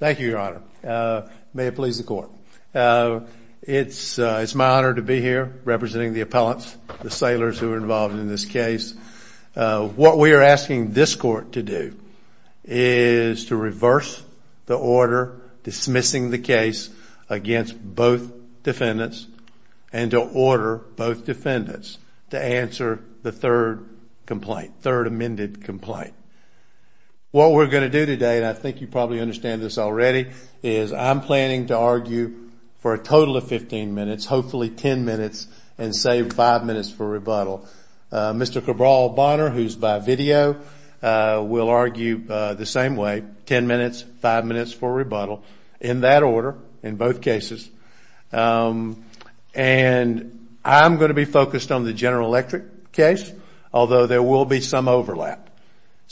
Thank you, Your Honor. May it please the Court. It's my honor to be here representing the appellants, the sailors who are involved in this case. What we are asking this Court to do is to reverse the order dismissing the case against both defendants and to order both defendants to answer the third complaint, third amended complaint. What we are going to do today, and I think you probably understand this already, is I'm planning to argue for a total of 15 minutes, hopefully 10 minutes, and save 5 minutes for rebuttal. Mr. Cabral Bonner, who is by video, will argue the same way, 10 minutes, 5 minutes for rebuttal, in that order, in both cases. I'm going to be focused on the General Electric case, although there will be some overlap.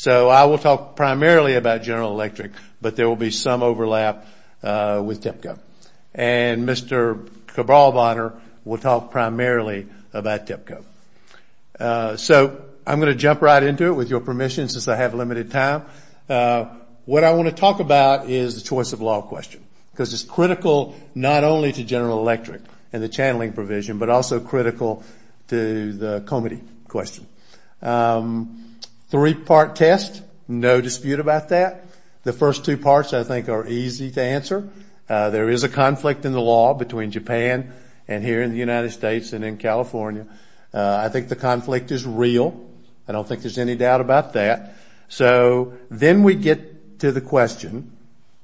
I will talk primarily about General Electric, but there will be some overlap with TEPCO. Mr. Cabral Bonner will talk primarily about TEPCO. I'm going to jump right into it, with your permission, since I have limited time. What I want to do is to talk about the three-part test. This is critical not only to General Electric and the channeling provision, but also critical to the Comittee question. Three-part test, no dispute about that. The first two parts, I think, are easy to answer. There is a conflict in the law between Japan and here in the United States and in California. I think the conflict is real. I don't think there's any doubt about that. So then we get to the question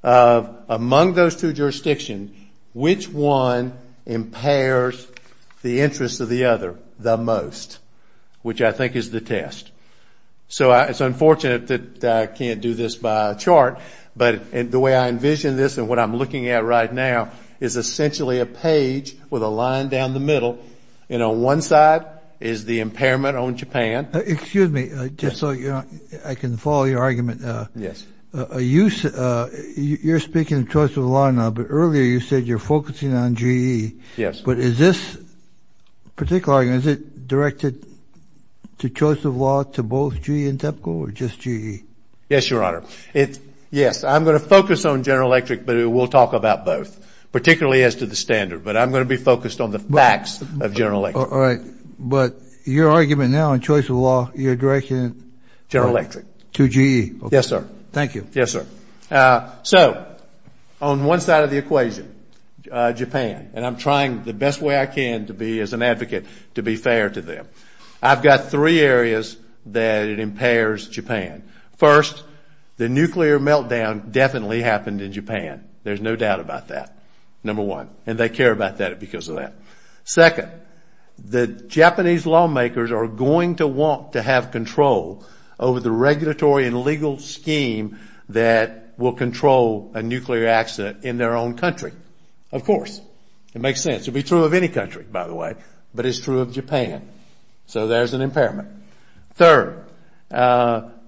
of, among those two jurisdictions, which one impairs the interests of the other the most, which I think is the test. So it's unfortunate that I can't do this by chart, but the way I envision this and what I'm looking at right now is essentially a page with a line down the middle, and on one side is the impairment on Japan. Excuse me, just so I can follow your argument. You're speaking of choice of law now, but earlier you said you're focusing on GE. But is this particular argument, is it directed to choice of law to both GE and TEPCO or just GE? Yes, Your Honor. Yes, I'm going to focus on General Electric, but we'll talk about both, particularly as to the standard. But I'm going to be focused on the facts of General Electric. All right. But your argument now on choice of law, your direction is General Electric to GE. Yes, sir. Thank you. Yes, sir. So on one side of the equation, Japan, and I'm trying the best way I can to be as an advocate to be fair to them. I've got three areas that it impairs Japan. First, the nuclear meltdown definitely happened in Japan. There's no doubt about that, number one, and they care about that because of that. Second, the Japanese lawmakers are going to want to have control over the regulatory and legal scheme that will control a nuclear accident in their own country, of course. It makes sense. It would be true of any country, by the way, but it's true of Japan. So there's an impairment. Third,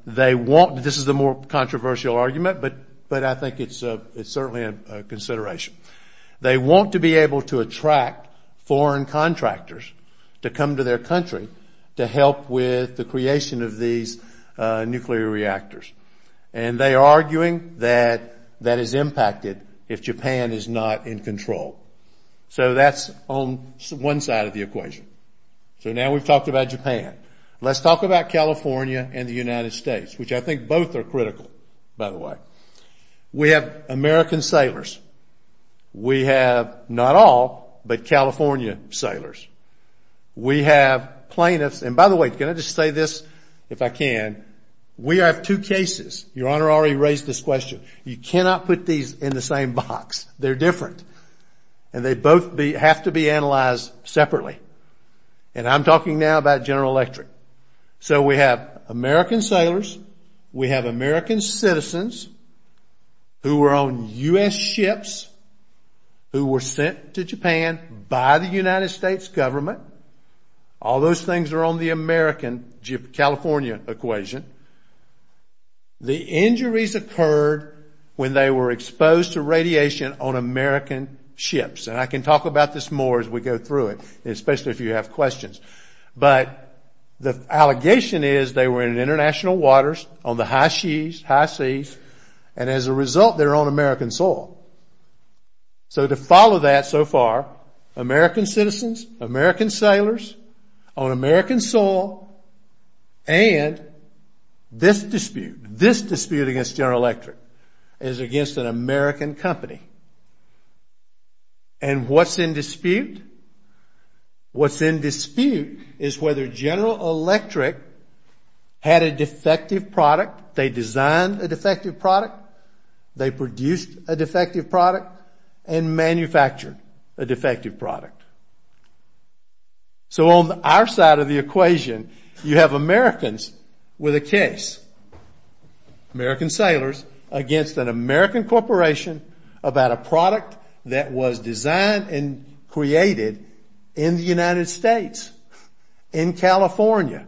they want – this is a more controversial argument, but I think it's certainly a reason to attract foreign contractors to come to their country to help with the creation of these nuclear reactors. And they are arguing that that is impacted if Japan is not in control. So that's on one side of the equation. So now we've talked about Japan. Let's talk about California and the United States, which I think both are critical, by the We have American sailors. We have not all, but California sailors. We have plaintiffs – and by the way, can I just say this, if I can? We have two cases. Your Honor already raised this question. You cannot put these in the same box. They're different. And they both have to be analyzed separately. And I'm talking now about General Electric. So we have American sailors. We have American citizens who were on U.S. ships who were sent to Japan by the United States government. All those things are on the American-California equation. The injuries occurred when they were exposed to radiation on American ships. And I can talk about this more as we go through it, especially if you have questions. But the So to follow that so far, American citizens, American sailors on American soil, and this dispute, this dispute against General Electric is against an American company. And what's in had a defective product. They designed a defective product. They produced a defective product and manufactured a defective product. So on our side of the equation, you have Americans with a case, American sailors, against an American corporation about a product that was designed and created in the United States, in California.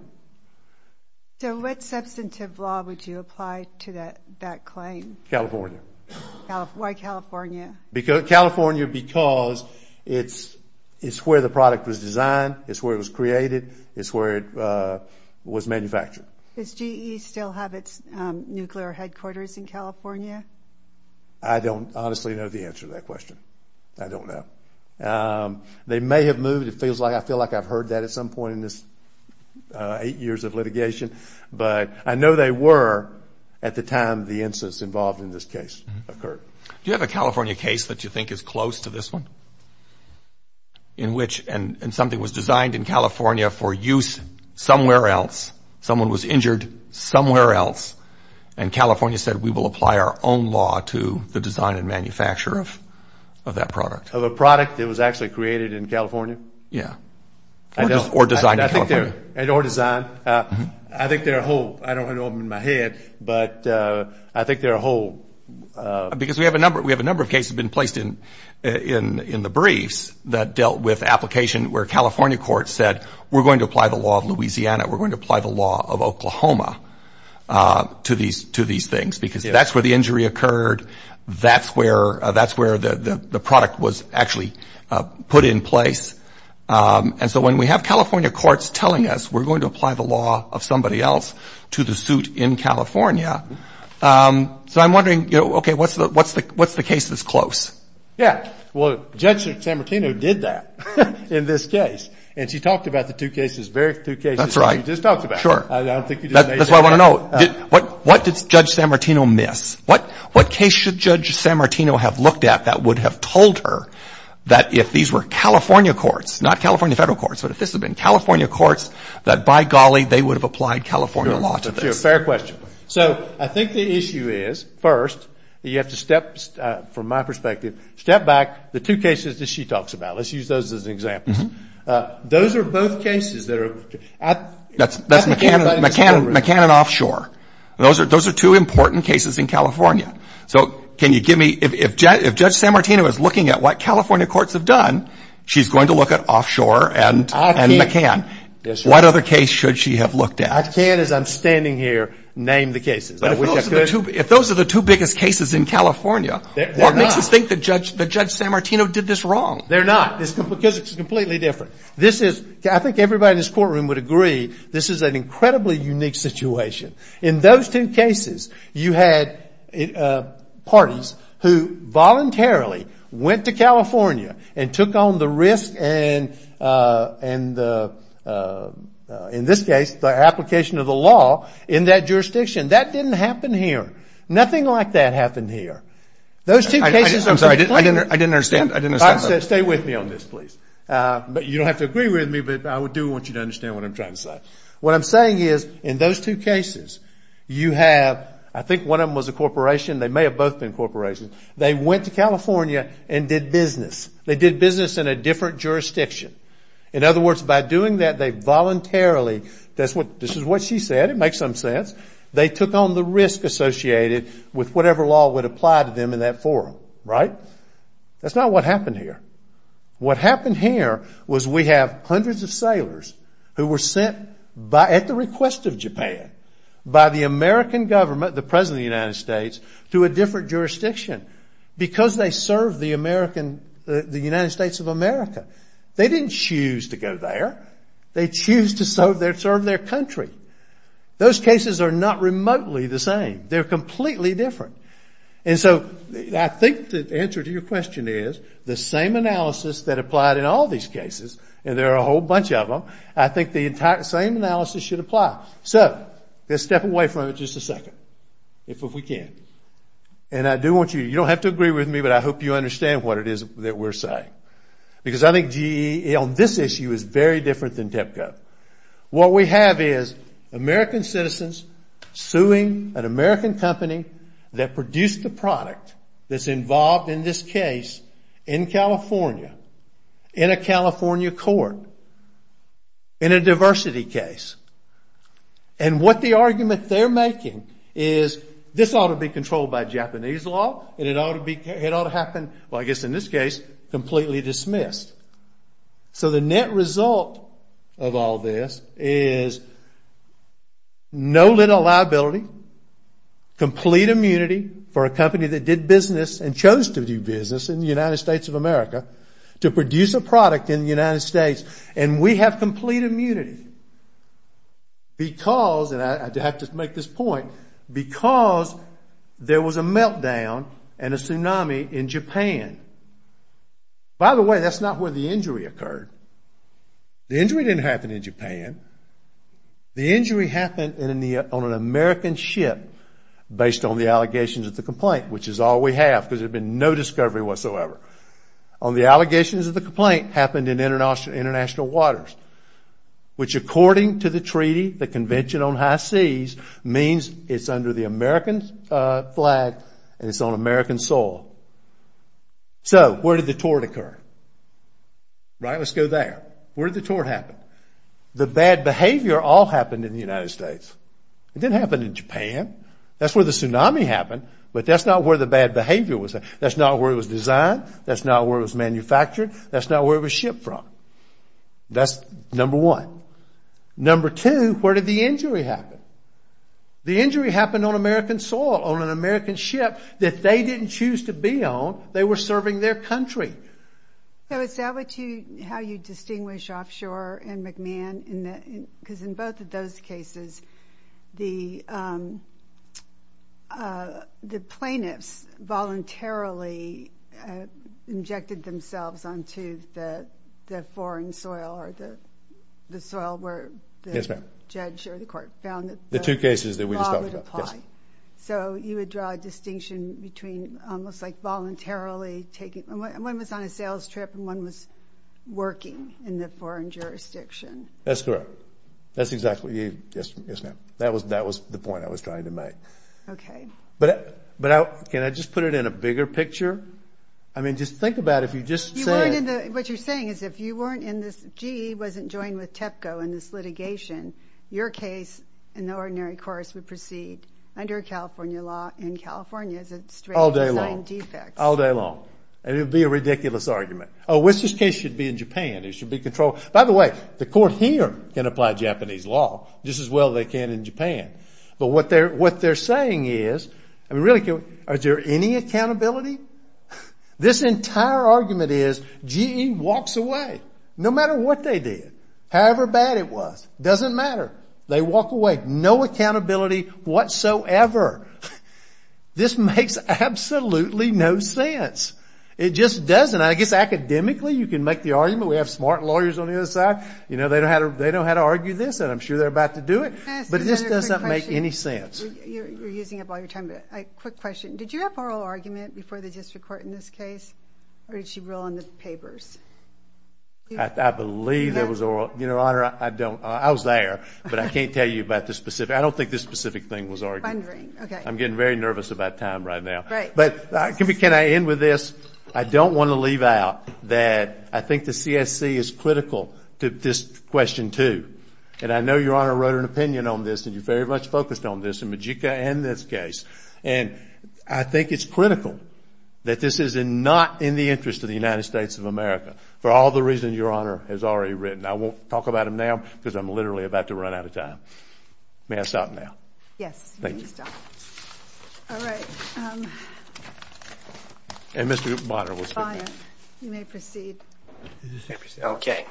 So what substantive law would you apply to that claim? California. Why California? California because it's where the product was designed, it's where it was created, it's where it was manufactured. Does GE still have its nuclear headquarters in California? I don't honestly know the answer to that question. I don't know. They may have moved. I feel like I've heard that at some point in this eight years of litigation. But I know they were at the time the incidents involved in this case occurred. Do you have a California case that you think is close to this one? In which something was designed in California for use somewhere else, someone was injured somewhere else, and California said, we will apply our own law to the design and manufacture of that product. Of a product that was actually created in California? Yeah. Or designed in California. And or designed. I think there are a whole, I don't have them in my head, but I think there are a whole... Because we have a number of cases that have been placed in the briefs that dealt with application where California courts said, we're going to apply the law of Louisiana, we're going to apply the law of Oklahoma to these things, because that's where the injury occurred. That's where the product was actually put in place. And so when we have California courts telling us we're going to apply the law of somebody else to the suit in California. So I'm wondering, okay, what's the case that's close? Yeah. Well, Judge Chamartino did that in this case. And she talked about the two cases, two cases that you just talked about. Sure. That's what I want to know. What did Judge Chamartino miss? What case should Judge Chamartino have looked at that would have told her that if these were California courts, not California federal courts, but if this had been California courts, that by golly, they would have applied California laws to this. Fair question. So I think the issue is, first, you have to step, from my perspective, step back the two cases that she talks about. Let's use those as an example. Those are both cases that are... That's McCann and Offshore. Those are two important cases in California. So can you give me, if Judge Chamartino is looking at what California courts have done, she's going to look at Offshore and McCann. What other case should she have looked at? I can't, as I'm standing here, name the cases. But if those are the two biggest cases in California, what makes you think that Judge Chamartino did this wrong? They're not. It's completely different. I think everybody in this courtroom would agree, this is an incredibly unique situation. In those two cases, you had parties who voluntarily went to California and took on the risk and, in this case, the application of the law in that jurisdiction. That didn't happen here. Nothing like that happened here. Those two cases... I'm sorry. I didn't understand. Stay with me on this, please. You don't have to agree with me, but I do want you to understand what I'm trying to say. What I'm saying is, in those two cases, you have... I think one of them was a corporation. They may have both been corporations. They went to California and did business. They did business in a different jurisdiction. In other words, by doing that, they voluntarily... This is what she said. It makes some sense. They took on the risk associated with whatever law would apply to them in that forum, right? That's not what happened here. What happened here was we have hundreds of sailors who were sent at the request of Japan by the American government, the President of the United States, to a different jurisdiction because they served the United States of America. They didn't choose to go there. They choose to serve their country. Those cases are not remotely the same. They're completely different. And so I think the answer to your question is the same analysis that applied in all these cases, and there are a whole bunch of them, I think the same analysis should apply. So let's step away from it just a second, if we can. And I do want you... You don't have to agree with me, but I hope you understand what it is that we're saying. Because I think this issue is very different than DEPCO. What we have is American citizens suing an American company that produced a product that's involved in this case in California, in a California court, in a diversity case. And what the argument they're making is this ought to be controlled by Japanese law, and it ought to happen, well I guess in this case, completely dismissed. So the net result of all this is no little liability, complete immunity for a company that did business and chose to do business in the United States of America, to produce a product in the United States, and we have complete immunity. Because, and I have to make this point, because there was a meltdown and a tsunami in Japan. By the way, that's not where the injury occurred. The injury didn't happen in Japan. The injury happened on an American ship based on the allegations of the complaint, which is all we have, because there's been no discovery whatsoever. On the allegations of the complaint happened in international waters, which according to the treaty, the Convention on High Seas, means it's under the American flag and it's on American soil. So, where did the tort occur? Right, let's go there. Where did the tort happen? The bad behavior all happened in the United States. It didn't happen in Japan. That's where the tsunami happened, but that's not where the bad behavior was. That's not where it was designed, that's not where it was manufactured, that's not where it was shipped from. That's number one. Number two, where did the injury happen? The injury happened on American soil, on an American ship that they didn't choose to be on. They were serving their country. So, is that how you distinguish offshore and McMahon? Because in both of those cases, the plaintiffs voluntarily had injected themselves onto the foreign soil or the soil where the judge or the court found it. The two cases that we just talked about. So, you would draw a distinction between almost like voluntarily taking – one was on a sales trip and one was working in the foreign jurisdiction. That's correct. That's exactly – yes, ma'am. That was the point I was trying to make. Okay. But can I just put it in a bigger picture? I mean, just think about it. What you're saying is if you weren't in this – GE wasn't joined with TEPCO in this litigation, your case in the ordinary course would proceed under California law in California. All day long. And it would be a ridiculous argument. Oh, which case should be in Japan? They should be controlled – by the way, the court here can apply Japanese law just as well as they can in Japan. But what they're saying is – I mean, really, are there any accountability? This entire argument is GE walks away no matter what they did, however bad it was. It doesn't matter. They walk away. No accountability whatsoever. This makes absolutely no sense. It just doesn't. I guess academically you can make the argument. We have smart lawyers on the other side. You know, they know how to argue this, and I'm sure they're about to do it. But this does not make any sense. You're using up all your time, but a quick question. Did you have an oral argument before the district court in this case, or did she rule on the papers? I believe there was oral – you know, I don't – I was there, but I can't tell you about the specific – I don't think this specific thing was argued. I'm getting very nervous about time right now. But can I end with this? I don't want to leave out that I think the CSC is critical to this question, too. And I know Your Honor wrote an opinion on this, and you very much focused on this in Majika and this case. And I think it's critical that this is not in the interest of the United States of America for all the reasons Your Honor has already written. I won't talk about them because I'm literally about to run out of time. May I stop now? Yes. Thank you. All right. And Mr. Bonner will say next. You may proceed. Okay.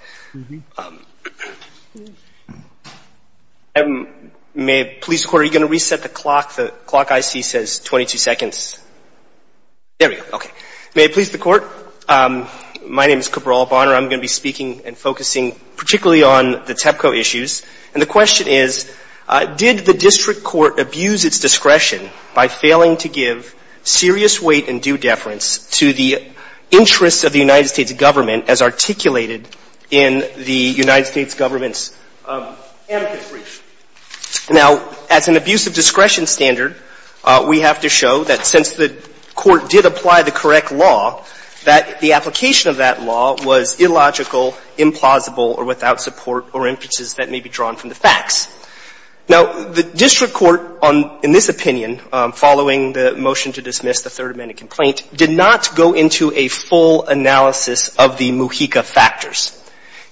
May – police court, are you going to reset the clock? The clock I see says 22 seconds. There we go. Okay. May I please the court? My name is Cabral Bonner. I'm going to be speaking and focusing particularly on the TEPCO issues. And the question is, did the district court abuse its discretion by failing to give serious weight and due deference to the interests of the United States government as articulated in the United States government's amicus brief? Now, as an abusive discretion standard, we have to show that since the court did apply the correct law, that the application of that law was illogical, implausible, or without support or interest that may be drawn from the facts. Now, the district court, in this opinion, following the motion to dismiss the third amendment complaint, did not go into a full analysis of the Mujica factors.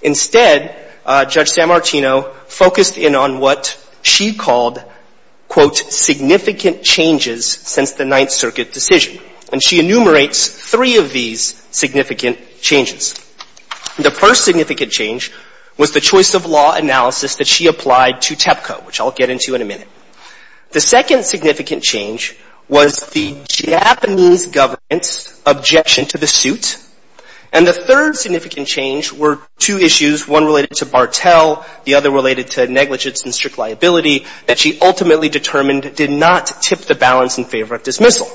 Instead, Judge Sammartino focused in on what she called, quote, significant changes since the significant changes. The first significant change was the choice of law analysis that she applied to TEPCO, which I'll get into in a minute. The second significant change was the Japanese government's objection to the suit. And the third significant change were two issues, one related to Bartel, the other related to negligence and strict liability, that she ultimately determined did not tip the balance in favor of dismissal.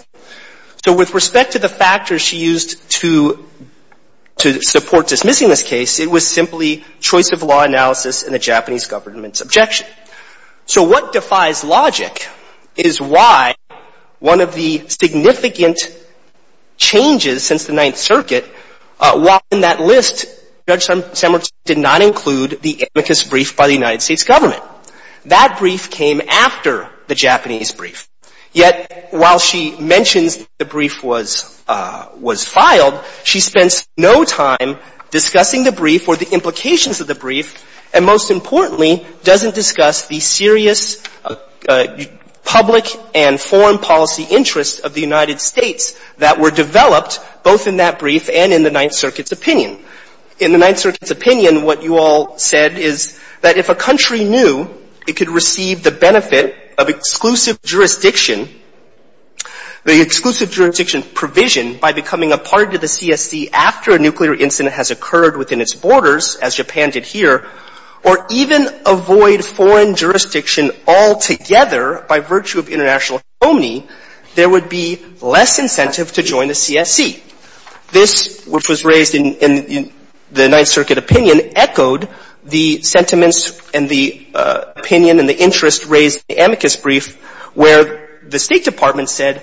So, with respect to the factors she used to support dismissing this case, it was simply choice of law analysis and the Japanese government's objection. So, what defies logic is why one of the significant changes since the Ninth Circuit, why in that list, Judge Sammartino did not include the amicus brief by the United States. Yet, while she mentioned the brief was filed, she spent no time discussing the brief or the implications of the brief, and most importantly, doesn't discuss the serious public and foreign policy interests of the United States that were developed both in that brief and in the Ninth Circuit's opinion. In the Ninth Circuit's opinion, what you all said is that if a country knew it could receive the benefit of exclusive jurisdiction, the exclusive jurisdiction provision by becoming a part of the CSC after a nuclear incident has occurred within its borders, as Japan did here, or even avoid foreign jurisdiction altogether by virtue of international harmony, there would be less incentive to join the CSC. This, which was raised in the Ninth Circuit's opinion and the interest raised in the amicus brief, where the State Department said,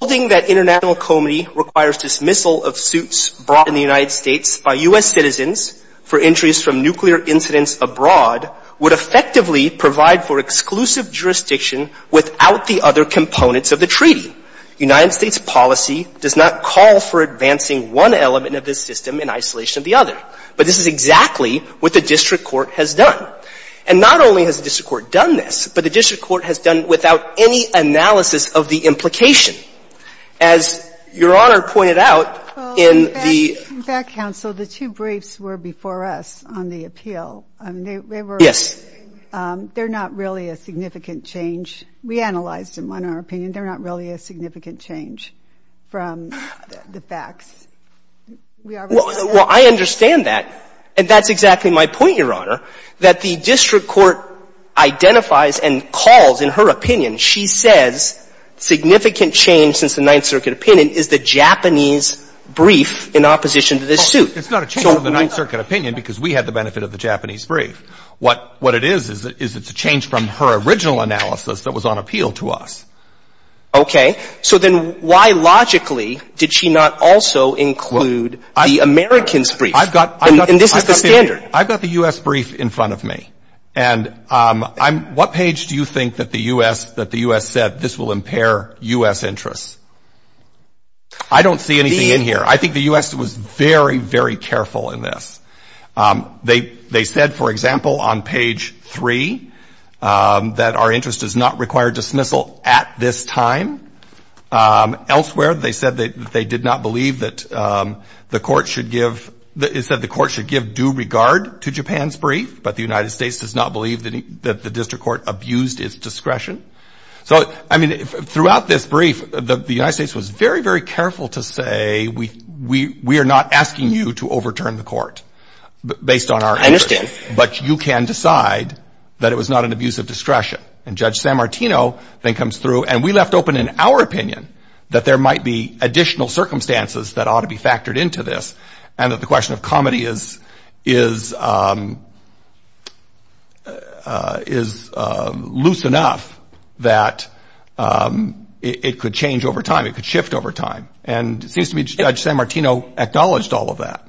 holding that international harmony requires dismissal of suits brought in the United States by U.S. citizens for entries from nuclear incidents abroad would effectively provide for exclusive jurisdiction without the other components of the treaty. The United States policy does not call for advancing one element of this system in isolation of the other, but this is exactly what the District Court has done. And not only has the District Court done this, but the District Court has done it without any analysis of the implication. As Your Honor pointed out, in the- Well, in fact, counsel, the two briefs were before us on the appeal. Yes. They're not really a significant change. We analyzed them on our opinion. They're not really a significant change from the facts. We are- Well, I understand that. And that's exactly my point, Your Honor, that the District Court identifies and calls in her opinion, she says, significant change since the Ninth Circuit opinion is the Japanese brief in opposition to this suit. It's not a change of the Ninth Circuit opinion because we had the benefit of the Japanese brief. What it is, is it's a change from her original analysis that was on appeal to us. Okay. So then why, logically, did she not also include the American brief? I've got the U.S. brief in front of me. And what page do you think that the U.S. said, this will impair U.S. interests? I don't see anything in here. I think the U.S. was very, very careful in this. They said, for example, on page three, that our interest does not require dismissal at this time. Elsewhere, they said that they did not believe that the court should give due regard to Japan's brief, but the United States does not believe that the District Court abused its discretion. So, I mean, throughout this brief, the United States was very, very careful to say, we are not asking you to overturn the court based on our interest, but you can decide that it was not an abuse of discretion. And Judge San Martino then comes through, and we left open in our opinion that there might be additional circumstances that ought to be factored into this, and that the question of comedy is loose enough that it could change over time, it could shift over time. And it seems to me Judge San Martino acknowledged all of that.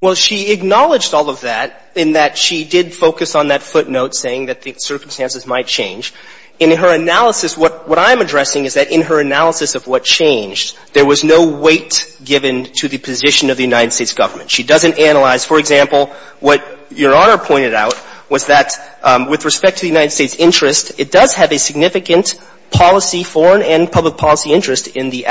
Well, she acknowledged all of that in that she did focus on that footnote saying that the circumstances might change. And in her analysis, what I'm addressing is that in her analysis of what changed, there was no weight given to the position of the United States government. She doesn't analyze, for example, what Your Honor pointed out was that with respect to the United States' interest, it does have a significant foreign and public policy interest in the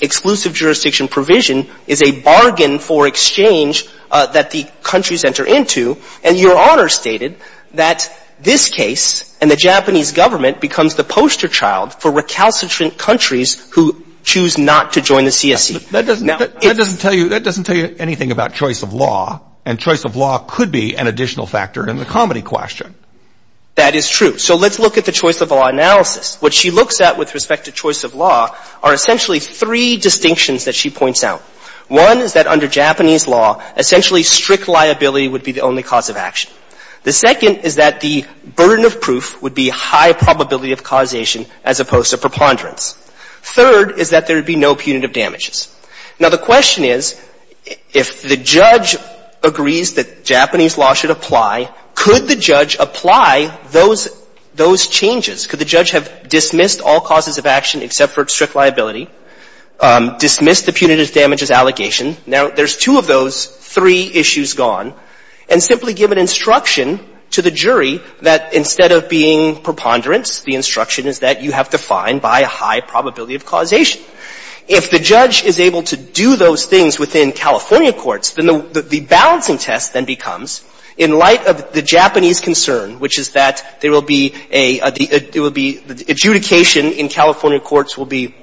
exclusive jurisdiction provision is a bargain for exchange that the countries enter into, and Your Honor stated that this case and the Japanese government becomes the poster child for recalcitrant countries who choose not to join the CSE. That doesn't tell you anything about choice of law, and choice of law could be an additional factor in the comedy question. That is true. So let's look at the choice of law analysis. What she looks at with respect to choice of law are essentially three distinctions that she points out. One is that under Japanese law, essentially strict liability would be the only cause of action. The second is that the burden of proof would be high probability of causation as opposed to preponderance. Third is that there would be no punitive damages. Now the question is, if the judge agrees that Japanese law should apply, could the judge apply those changes? Could the judge have dismissed all causes of action except for strict liability, dismiss the punitive damages allegation? Now there's two of those three issues gone, and simply give an instruction to the jury that instead of being preponderance, the instruction is that you have to find by a high probability of causation. If the judge is able to do those things within California courts, then the balancing test then in light of the Japanese concern, which is that adjudication in California courts will be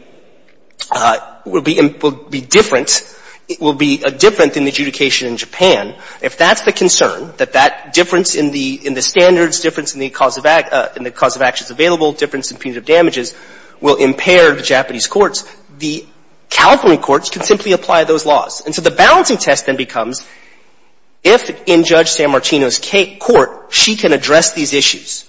different than adjudication in Japan. If that's the concern, that difference in the standards, difference in the cause of actions available, difference in punitive damages will impair Japanese courts. The California courts can simply apply those laws. And so the balancing test then becomes, if in Judge San Martino's court she can address these issues,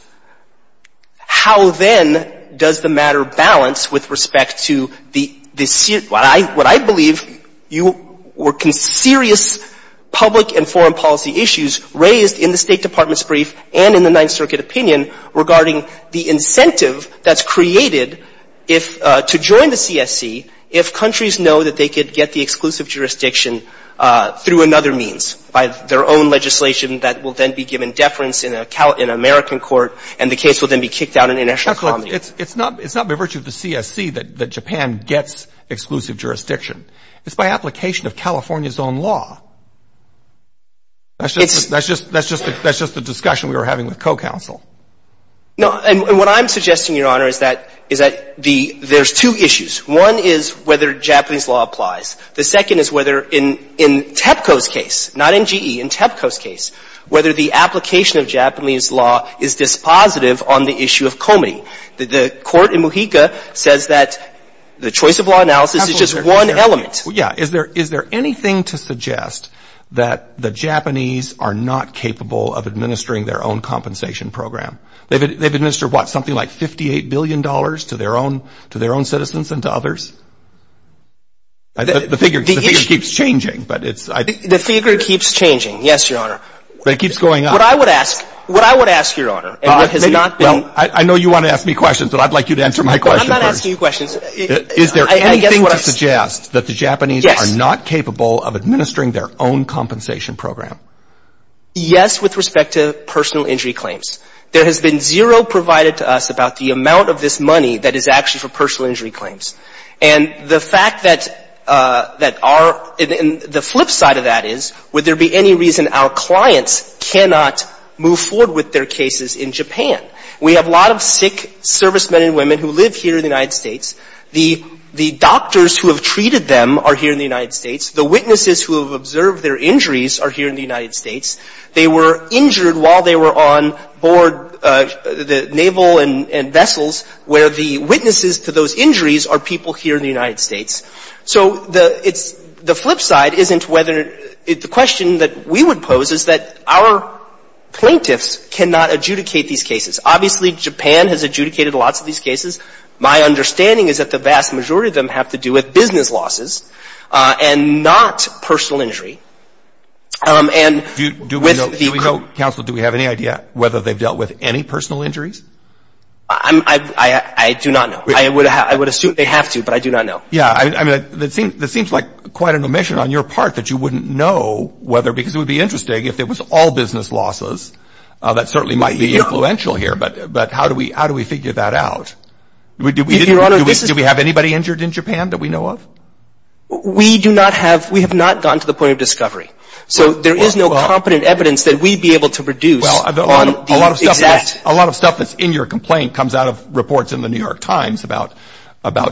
how then does the matter balance with respect to what I believe were serious public and foreign policy issues raised in the State Department's brief and in the Ninth Circuit opinion regarding the incentive that's created to join the CSE if countries know that they could get the exclusive jurisdiction through another means, by their own legislation that will then be given deference in an American court, and the case will then be kicked out in an international committee. It's not by virtue of the CSE that Japan gets exclusive jurisdiction. It's by application of California's own law. That's just a discussion we were having with co-counsel. No, and what I'm suggesting, Your Honor, is that there's two issues. One is whether Japanese law applies. The second is whether in TEPCO's case, not NGE, in TEPCO's case, whether the application of Japanese law is dispositive on the issue of comity. The court in Mojica says that the choice of law analysis is just one element. Is there anything to suggest that the Japanese are not capable of administering their own compensation program? They've administered, what, something like $58 billion to their own citizens and to others? The figure keeps changing, but it's... The figure keeps changing, yes, Your Honor. It keeps going up. What I would ask, Your Honor, and what has not been... I know you want to ask me questions, but I'd like you to answer my question first. I'm not asking you questions. Is there anything to suggest that the Japanese are not capable of administering their own compensation program? Yes, with respect to personal injury claims. There has been zero provided to us about the amount of this money that is actually for personal injury claims. And the fact that the flip side of that is, would there be any reason our clients cannot move forward with their cases in Japan? We have a lot of sick servicemen and women who live here in the United States. The doctors who have treated them are here in the United States. The witnesses who were injured while they were on board, the naval and vessels, where the witnesses to those injuries are people here in the United States. So the flip side isn't whether... The question that we would pose is that our plaintiffs cannot adjudicate these cases. Obviously, Japan has adjudicated lots of these cases. My understanding is that the vast majority of them have to do with business losses and not personal injury. Counsel, do we have any idea whether they've dealt with any personal injuries? I do not know. I would assume they have to, but I do not know. Yeah. I mean, it seems like quite an omission on your part that you wouldn't know whether because it would be interesting if it was all business losses. That certainly might be influential here, but how do we figure that out? Do we have anybody injured in Japan that we know of? We do not have... We have not gotten to the point of discovery, so there is no competent evidence that we'd be able to produce. Well, a lot of stuff that's in your complaint comes out of reports in the New York Times about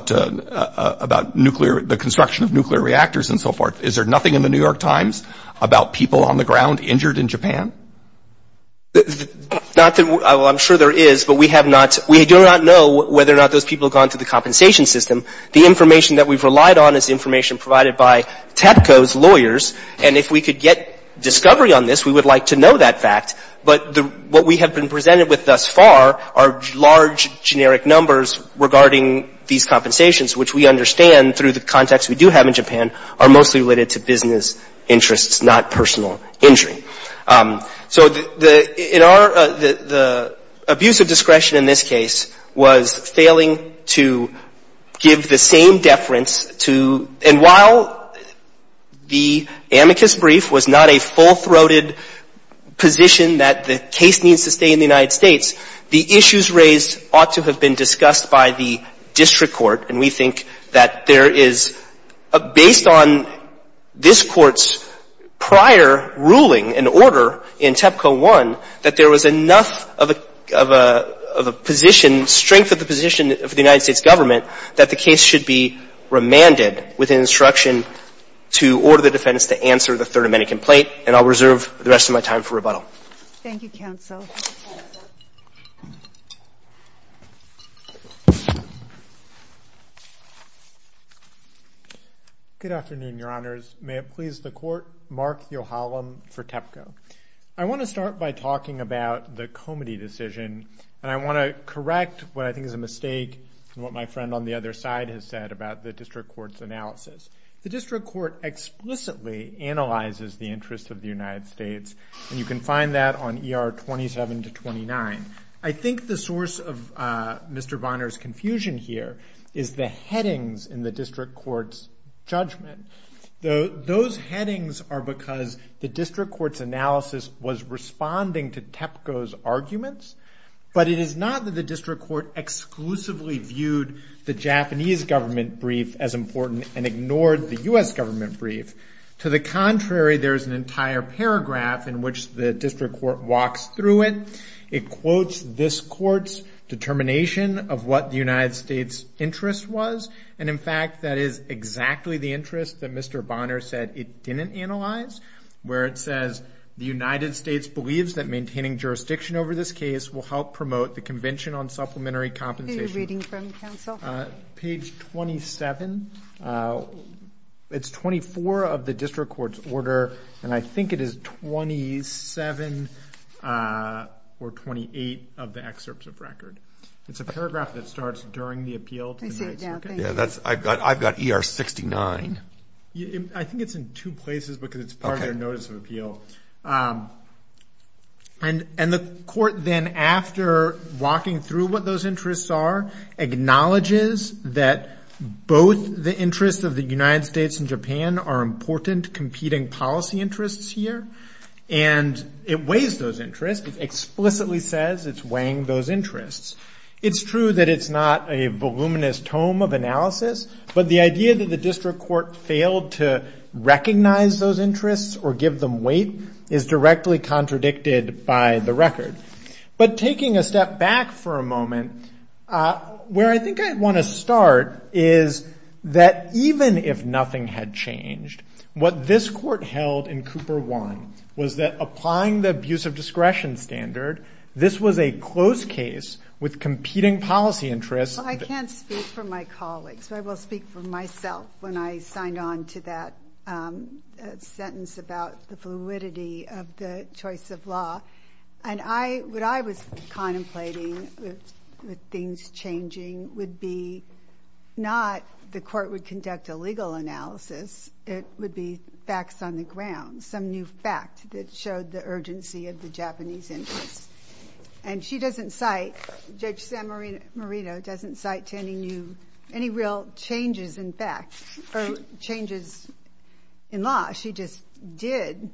the construction of nuclear reactors and so forth. Is there nothing in the New York Times about people on the ground injured in Japan? Well, I'm sure there is, but we do not know whether or not those people have gone to the system. The information that we've relied on is information provided by TEPCO's lawyers, and if we could get discovery on this, we would like to know that fact, but what we have been presented with thus far are large generic numbers regarding these compensations, which we understand through the context we do have in Japan are mostly related to business interests, not personal injury. So the abuse of discretion in this case was failing to give the same deference to... And while the amicus brief was not a full-throated position that the case needs to stay in the United States, the issues raised ought to have been discussed by the district court, and we think that there is, based on this court's prior ruling and order in TEPCO 1, that there was enough of a position, strength of the position of the United States government that the case should be remanded with an instruction to order the defense to answer the third amenity complaint, and I'll reserve the rest of my time for rebuttal. Thank you, counsel. Good afternoon, Your Honors. May it please the court, Mark Yohalam for TEPCO. I want to start by talking about the Comity decision, and I want to correct what I think is a mistake from what my friend on the other side has said about the district court's analysis. The district court explicitly analyzes the interest of the United States, and you can find that on ER 27 to 29. I think the source of Mr. Bonner's confusion here is the headings in the district court's judgment. Those headings are because the district court's analysis was responding to TEPCO's arguments, but it is not that the district court exclusively viewed the Japanese government brief as important and ignored the U.S. government brief. To the contrary, there's an entire paragraph in which the district court walks through it. It quotes this court's determination of what the United States' interest was, and in fact, that is exactly the interest that Mr. Bonner said it didn't analyze, where it says, the United States believes that maintaining jurisdiction over this case will help promote the Convention on Supplementary Compensation. Who are you reading from, counsel? Page 27. It's 24 of the district court's order, and I think it is 27 or 28 of the excerpts of record. It's a paragraph that starts during the appeal. I've got ER 69. I think it's in two places because it's part of their notice of appeal. And the court then, after walking through what those interests are, acknowledges that both the interests of the United States and Japan are important competing policy interests here, and it weighs those interests. It explicitly says it's weighing those interests. It's true that it's not a voluminous tome of analysis, but the idea that the district court failed to recognize those interests or give them weight is directly contradicted by the record. But taking a step back for a moment, where I think I'd want to start is that even if nothing had changed, what this court held in Cooper 1 was that applying the abuse of discretion standard, this was a closed case with competing policy interests. I can't speak for my colleagues. I will speak for myself when I signed on to that sentence about the validity of the choice of law. And what I was contemplating with things changing would be not the court would conduct a legal analysis. It would be facts on the ground, some new fact that showed the urgency of the Japanese interest. And she doesn't cite, Judge San Marino doesn't cite any real changes in facts or changes in law. She just did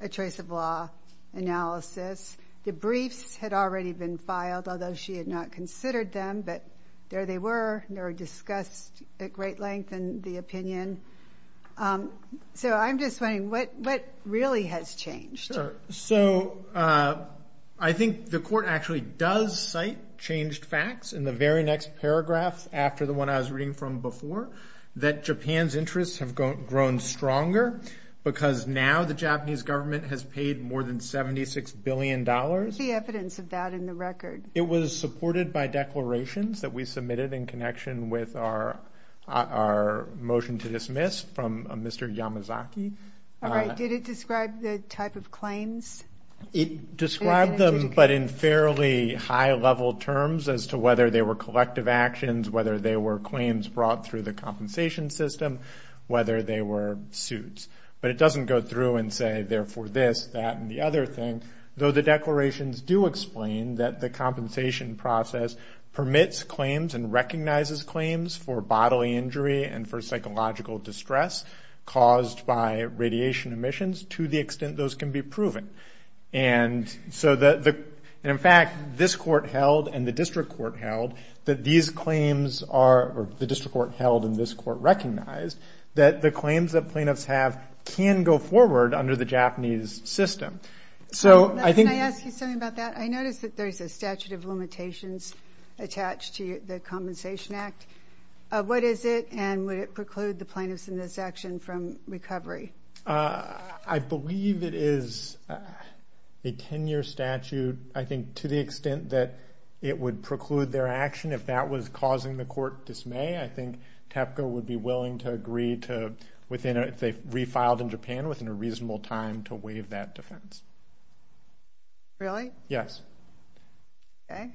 a choice of law analysis. The briefs had already been filed, although she had not considered them. But there they were. They were discussed at great length in the opinion. So I'm just saying, what really has changed? So I think the court actually does cite changed facts in the very next paragraph after the one I was reading from before, that Japan's interests have grown stronger because now the Japanese government has paid more than $76 billion. What's the evidence of that in the record? It was supported by declarations that we submitted in connection with our motion to dismiss from Mr. Yamazaki. Did it describe the type of claims? It described them, but in fairly high level terms as to whether they were collective actions, whether they were claims brought through the compensation system, whether they were suits. But it doesn't go through and say, therefore, this, that, and the other thing, though the declarations do explain that the compensation process permits claims and recognizes claims for bodily injury and for psychological distress caused by radiation emissions to the extent those can be proven. And so in fact, this court held and the district court held that these claims are, or the district court held and this court recognized, that the claims that plaintiffs have can go forward under the Japanese system. So I think- Can I ask you something about that? I noticed that there's a statute of limitations attached to the Compensation Act. What is it and would it preclude the plaintiffs in this action from recovery? I believe it is a 10-year statute. I think to the extent that it would preclude their action, if that was causing the court dismay, I think TEPCO would be willing to agree to, if they refiled in Japan, within a reasonable time to waive that defense. Really? Yes. Okay.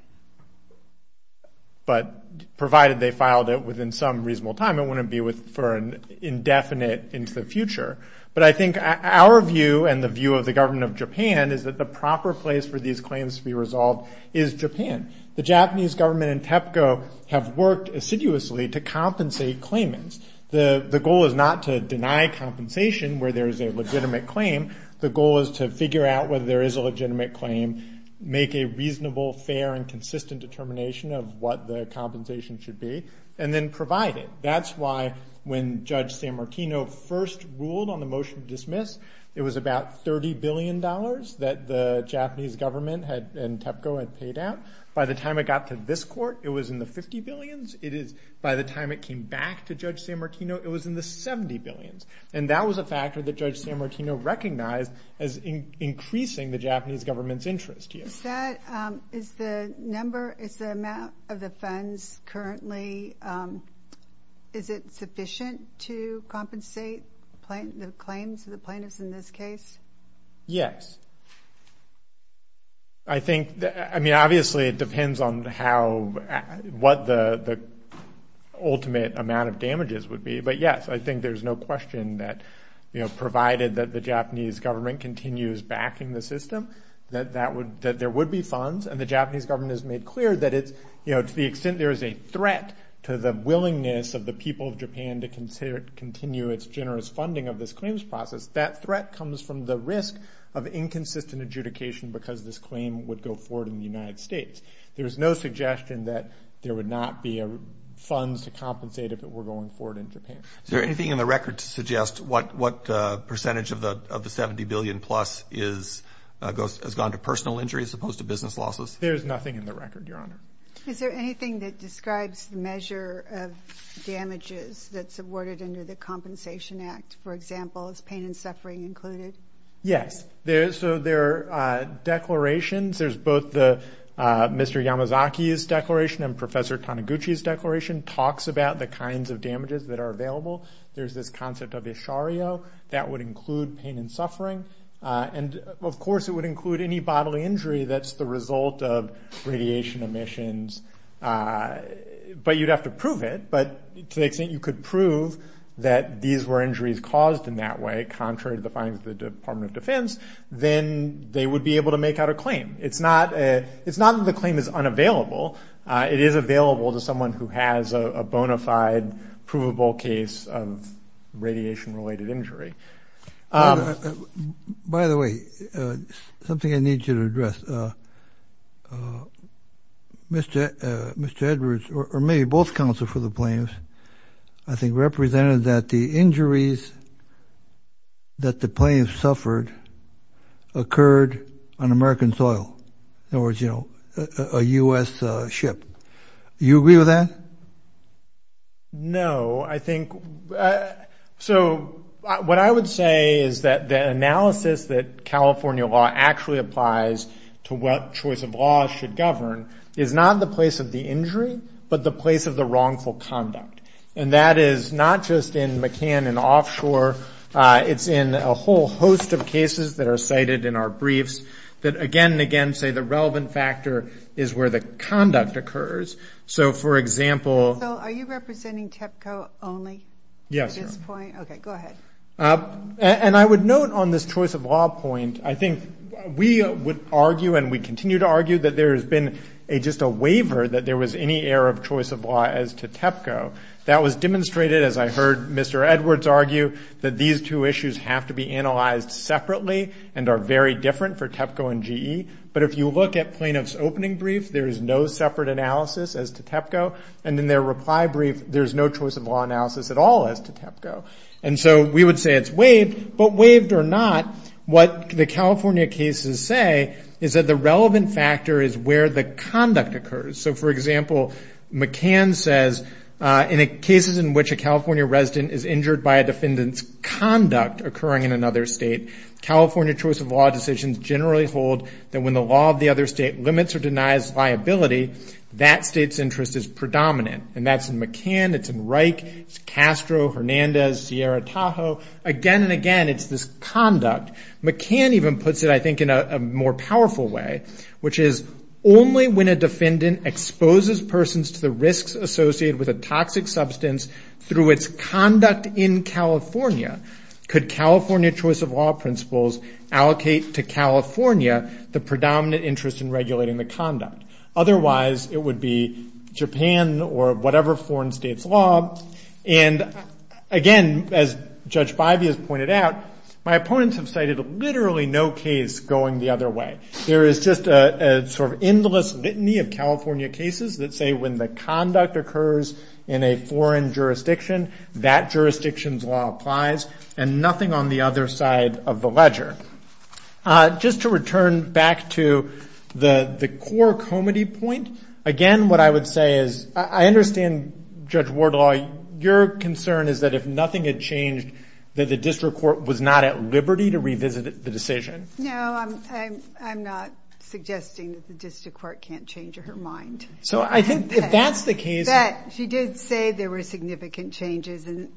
But provided they filed it within some reasonable time, it wouldn't be for an indefinite into But I think our view and the view of the government of Japan is that the proper place for these claims to be resolved is Japan. The Japanese government and TEPCO have worked assiduously to compensate claimants. The goal is not to deny compensation where there is a legitimate claim. The goal is to figure out whether there is a legitimate claim, make a reasonable, fair, and consistent determination of what the compensation should be, and then provide it. That's why when Judge San Martino first ruled on the motion to dismiss, it was about $30 billion that the Japanese government and TEPCO had paid out. By the time it got to this court, it was in the $50 billion. It is, by the time it came back to Judge San Martino, it was in the $70 billion. And that was a factor that Judge San Martino recognized as increasing the Japanese government's interest here. Is the number, is the amount of the funds currently, is it sufficient to compensate the claims of the plaintiffs in this case? Yes. I think, I mean, obviously, it depends on how, what the ultimate amount of damages would be. But yes, I think there's no question that, you know, provided that the Japanese government continues backing the system, that there would be funds. And the Japanese government has made clear that, you know, to the extent there is a threat to the willingness of the people of Japan to continue its generous funding of this claims process, that threat comes from the risk of inconsistent adjudication because this claim would go forward in the United States. There's no suggestion that there would not be funds to compensate if it were going forward in Japan. Is there anything in the record to suggest what percentage of the $70 billion-plus has gone to personal injury as opposed to business losses? There's nothing in the record, Your Honor. Is there anything that describes the measure of damages that's awarded under the Compensation Act? For example, is pain and suffering included? Yes. So there are declarations, there's both Mr. Yamazaki's declaration and Professor Yamazaki's declaration of damages that are available. There's this concept of ishariyo. That would include pain and suffering. And of course, it would include any bodily injury that's the result of radiation emissions. But you'd have to prove it. But to the extent you could prove that these were injuries caused in that way, contrary to the findings of the Department of Defense, then they would be able to make out a claim. It's not that the claim is unavailable. It is available to someone who has a bona fide, provable case of radiation-related injury. By the way, something I need you to address. Mr. Edwards, or maybe both counsel for the claims, I think represented that the injuries that the claims suffered occurred on American soil. In other words, a U.S. ship. Do you agree with that? No. I think, so what I would say is that the analysis that California law actually applies to what choice of law should govern is not the place of the injury, but the place of the wrongful conduct. And that is not just in McCann and offshore. It's in a whole host of cases that are cited in our briefs that, again and again, say the relevant factor is where the conduct occurs. So, for example- Phil, are you representing TEPCO only? Yes. Okay, go ahead. And I would note on this choice of law point, I think we would argue and we continue to argue that there has been just a waiver that there was any error of choice of law as to TEPCO. That was demonstrated, as I heard Mr. Edwards argue, that these two issues have to be analyzed separately and are very different for TEPCO and GE. But if you look at plaintiff's opening brief, there is no separate analysis as to TEPCO. And in their reply brief, there's no choice of law analysis at all as to TEPCO. And so we would say it's waived, but waived or not, what the California cases say is that the relevant factor is where the conduct occurs. So, for example, McCann says, in cases in which a California resident is injured by a defendant's conduct occurring in another state, California choice of law decisions generally hold that when the law of the other state limits or denies viability, that state's interest is predominant. And that's in McCann, it's in Reich, Castro, Hernandez, Sierra, Tahoe. Again and again, it's this conduct. McCann even puts it, I think, in a more powerful way, which is only when a defendant exposes persons to the risks associated with a toxic substance through its conduct in California, could California choice of law principles allocate to California the predominant interest in regulating the conduct. Otherwise, it would be Japan or whatever foreign state's law. And again, as Judge Bivey has pointed out, my opponents have cited literally no case going the other way. There is just a sort of endless litany of California cases that say when the conduct occurs in a foreign jurisdiction, that jurisdiction's law applies, and nothing on the other side of the ledger. Just to return back to the core comity point, again, what I would say is, I understand Judge Wardlaw, your concern is that if nothing had changed, that the district court was not at liberty to revisit the decision? No, I'm not suggesting that the district court can't change her mind. So I think if that's the case... But she did say there were significant changes, and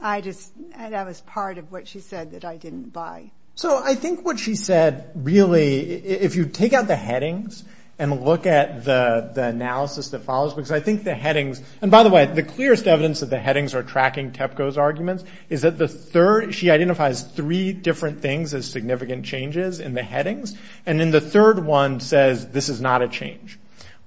that was part of what she said that I didn't buy. So I think what she said, really, if you take out the headings and look at the analysis that follows, because I think the headings... And by the way, the clearest evidence that the headings are tracking TEPCO's arguments is that the third... She identifies three different things as significant changes in the headings. And then the third one says, this is not a change,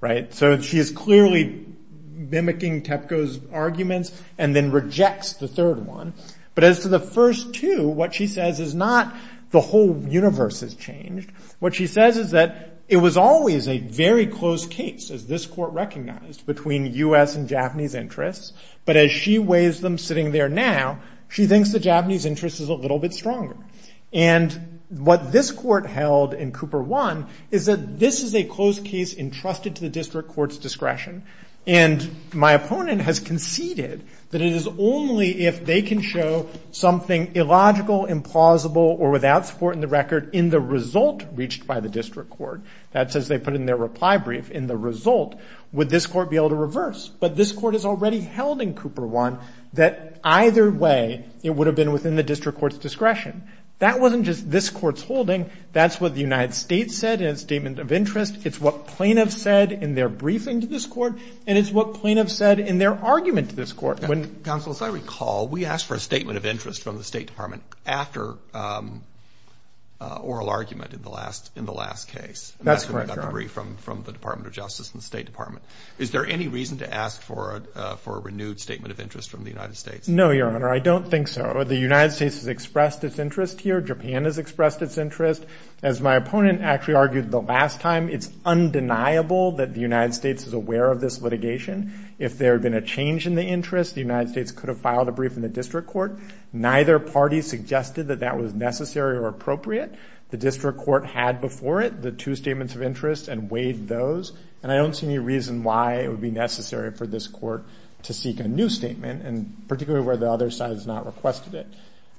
right? So she is clearly mimicking TEPCO's arguments and then rejects the third one. But as to the first two, what she says is not the whole universe has changed. What she says is that it was always a very close case, as this court recognized, between U.S. and Japanese interests. But as she weighs them sitting there now, she thinks the Japanese interest is a little bit stronger. And what this court held in Cooper 1 is that this is a close case entrusted to the district court's discretion. And my opponent has conceded that it is only if they can show something illogical, implausible, or without support in the record in the result reached by the district court, that's as they put in their reply brief, in the result, would this court be able to reverse. But this court has already held in Cooper 1 that either way, it would have been within the district court's discretion. That wasn't just this court's holding. That's what the United States said in a statement of interest. It's what plaintiffs said in their briefing to this court. And it's what plaintiffs said in their argument to this court. Counsel, if I recall, we asked for a statement of interest from the State Department after oral argument in the last case. That's correct, Your Honor. From the Department of Justice and the State Department. Is there any reason to ask for a renewed statement of interest from the United States? No, Your Honor. I don't think so. The United States has expressed its interest here. Japan has expressed its interest. As my opponent actually argued the last time, it's undeniable that the United States is aware of this litigation. If there had been a change in the interest, the United States could have filed a brief in the district court. Neither party suggested that that was necessary or appropriate. The district court had before it the two statements of interest and waived those. And I don't see any reason why it would be necessary for this court to seek a new statement, and particularly where the other side has not requested it.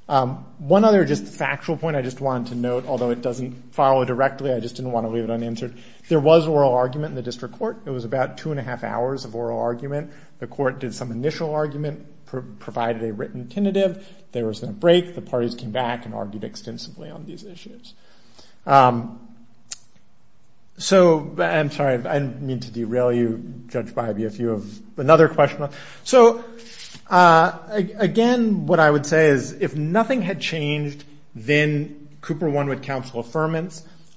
One other just factual point I just wanted to note, although it doesn't follow directly, I just didn't want to leave it unanswered. There was oral argument in the district court. There was about two and a half hours of oral argument. The court did some initial argument, provided a written tentative. There was no break. The parties came back and argued extensively on these issues. So I'm sorry. I didn't mean to derail you, Judge Bybee, if you have another question. So again, what I would say is if nothing had changed, then Cooper won with counsel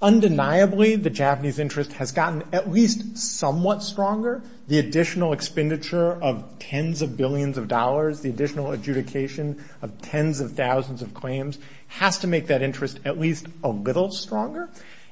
Undeniably, the Japanese interest has gotten at least somewhat stronger. The additional expenditure of tens of billions of dollars, the additional adjudication of tens of thousands of claims has to make that interest at least a little stronger.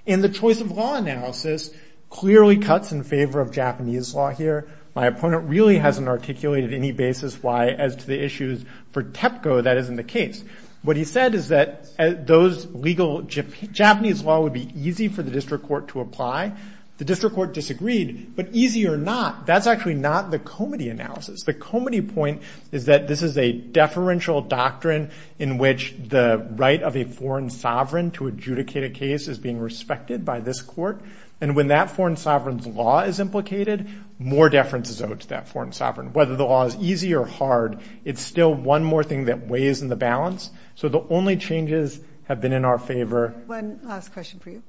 And the choice of law analysis clearly cuts in favor of Japanese law here. My opponent really hasn't articulated any basis as to the issues for TEPCO that is in the case. What he said is that those legal Japanese law would be easy for the district court to apply. The district court disagreed. But easy or not, that's actually not the comity analysis. The comity point is that this is a deferential doctrine in which the right of a foreign sovereign to adjudicate a case is being respected by this court. And when that foreign sovereign's law is implicated, more deference is owed to that foreign sovereign. Whether the law is easy or hard, it's still one more thing that weighs in the balance. So the only changes have been in our favor. One last question for you.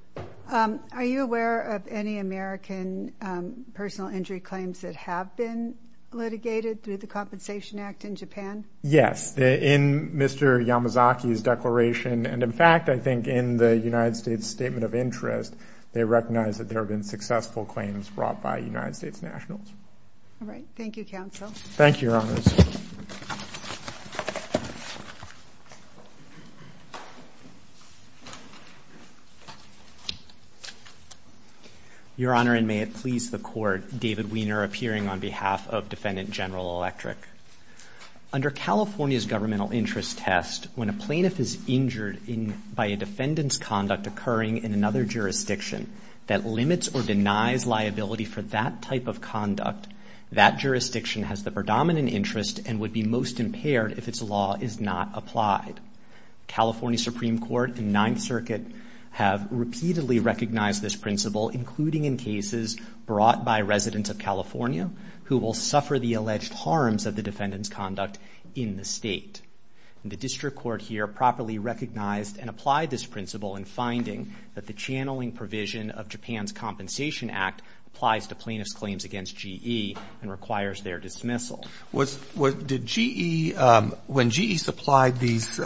Are you aware of any American personal injury claims that have been litigated through the Compensation Act in Japan? Yes, in Mr. Yamazaki's declaration. And in fact, I think in the United States Statement of Interest, they recognize that there have been successful claims brought by United States nationals. All right. Thank you, counsel. Thank you, Your Honor. Your Honor, and may it please the court, David Wiener appearing on behalf of Defendant General Electric. Under California's governmental interest test, when a plaintiff is injured by a defendant's liability for that type of conduct, that jurisdiction has the predominant interest and would be most impaired if its law is not applied. California Supreme Court and Ninth Circuit have repeatedly recognized this principle, including in cases brought by residents of California who will suffer the alleged harms of the defendant's conduct in the state. And the district court here properly recognized and applied this principle in finding that the channeling provision of Japan's Compensation Act applies to plaintiff's claims against GE and requires their dismissal. When GE supplied these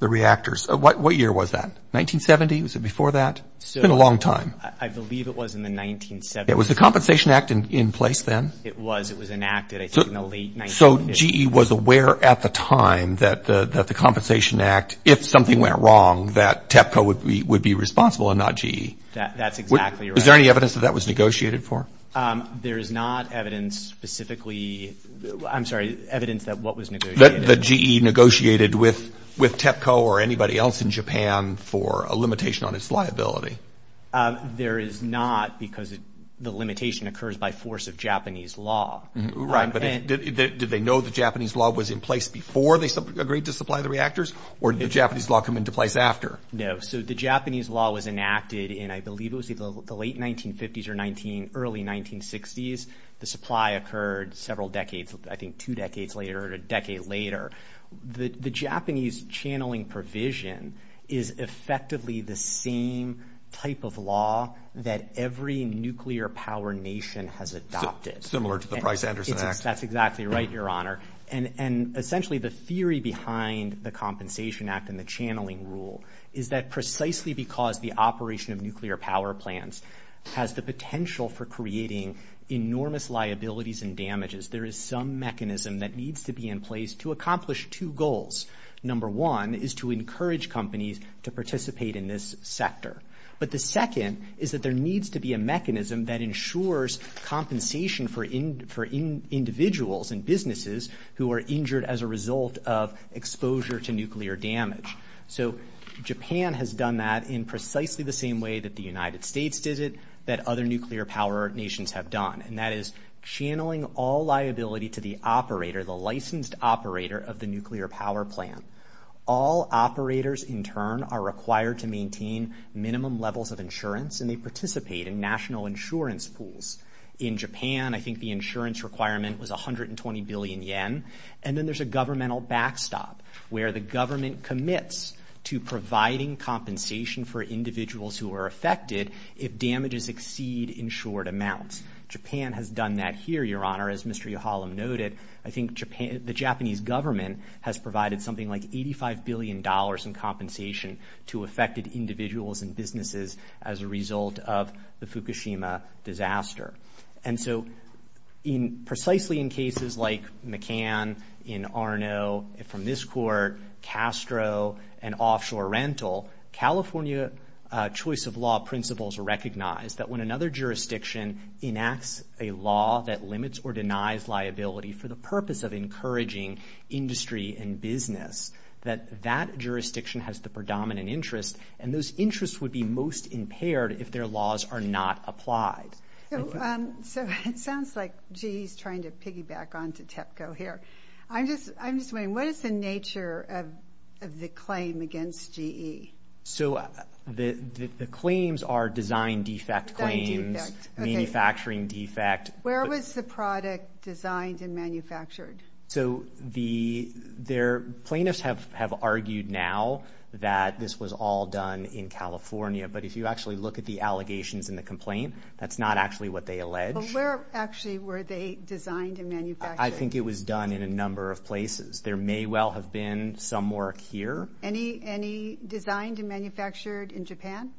reactors, what year was that? 1970? Was it before that? It's been a long time. I believe it was in the 1970s. It was the Compensation Act in place then? It was. It was enacted in the late 1970s. So GE was aware at the time that the Compensation Act, if something went wrong, that TEPCO would be responsible and not GE. That's exactly right. Is there any evidence that that was negotiated for? There's not evidence specifically... I'm sorry, evidence that what was negotiated? That GE negotiated with TEPCO or anybody else in Japan for a limitation on its liability. There is not because the limitation occurs by force of Japanese law. Right, but did they know the Japanese law was in place before they agreed to supply the reactors? Or did the Japanese law come into place after? No. So the Japanese law was enacted in, I believe it was the late 1950s or early 1960s. The supply occurred several decades, I think two decades later or a decade later. The Japanese channeling provision is effectively the same type of law that every nuclear power nation has adopted. Similar to the Price-Anderson Act. That's exactly right, Your Honor. And essentially the theory behind the Compensation Act and the channeling rule is that precisely because the operation of nuclear power plants has the potential for creating enormous liabilities and damages, there is some mechanism that needs to be in place to accomplish two goals. Number one is to encourage companies to participate in this sector. But the second is that there needs to be a mechanism that ensures compensation for individuals and businesses who are injured as a result of exposure to nuclear damage. So Japan has done that in precisely the same way that the United States did it, that other nuclear power nations have done. And that is channeling all liability to the operator, the licensed operator of the nuclear power plant. All operators in turn are required to maintain minimum levels of insurance and they participate in national insurance pools. In Japan, I think the insurance requirement was 120 billion yen. And then there's a governmental backstop where the government commits to providing compensation for individuals who are affected if damages exceed insured amounts. Japan has done that here, Your Honor. As Mr. Yohalam noted, I think the Japanese government has provided something like $85 billion in compensation to affected individuals and businesses as a result of the Fukushima disaster. And so in precisely in cases like McCann, in Arno, from this court, Castro, and offshore rental, California choice of law principles recognize that when another jurisdiction enacts a law that limits or denies liability for the purpose of encouraging industry and business, that that jurisdiction has the predominant interest and those interests would be most impaired if their laws are not applied. So it sounds like GE is trying to piggyback on to TEPCO here. I'm just wondering, what is the nature of the claim against GE? So the claims are design defect claims, manufacturing defect. Where was the product designed and manufactured? So the plaintiffs have argued now that this was all done in California. But if you actually look at the allegations in the complaint, that's not actually what they allege. But where actually were they designed and manufactured? I think it was done in a number of places. There may well have been some work here. Any designed and manufactured in Japan?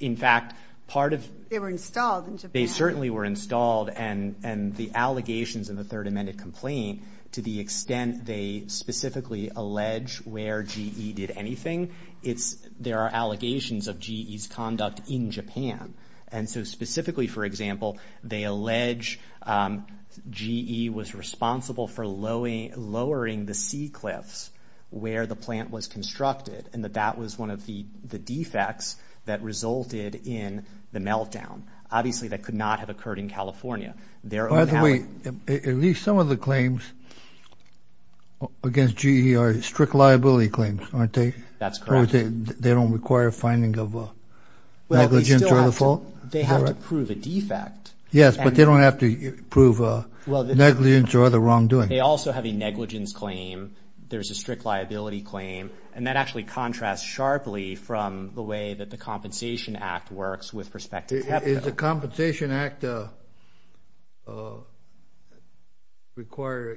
In fact, part of... They were installed in Japan. They certainly were installed. And the allegations in the third amended complaint, to the extent they specifically allege where GE did anything, there are allegations of GE's conduct in Japan. And so specifically, for example, they allege GE was responsible for lowering the sea cliffs where the plant was constructed and that that was one of the defects that resulted in the meltdown. Obviously, that could not have occurred in California. By the way, at least some of the claims against GE are strict liability claims, aren't they? That's correct. They don't require finding of negligence or other fault? They have to prove a defect. Yes, but they don't have to prove negligence or other wrongdoing. They also have a negligence claim. There's a strict liability claim. And that actually contrasts sharply from the way that the Compensation Act works with respect to... Does the Compensation Act require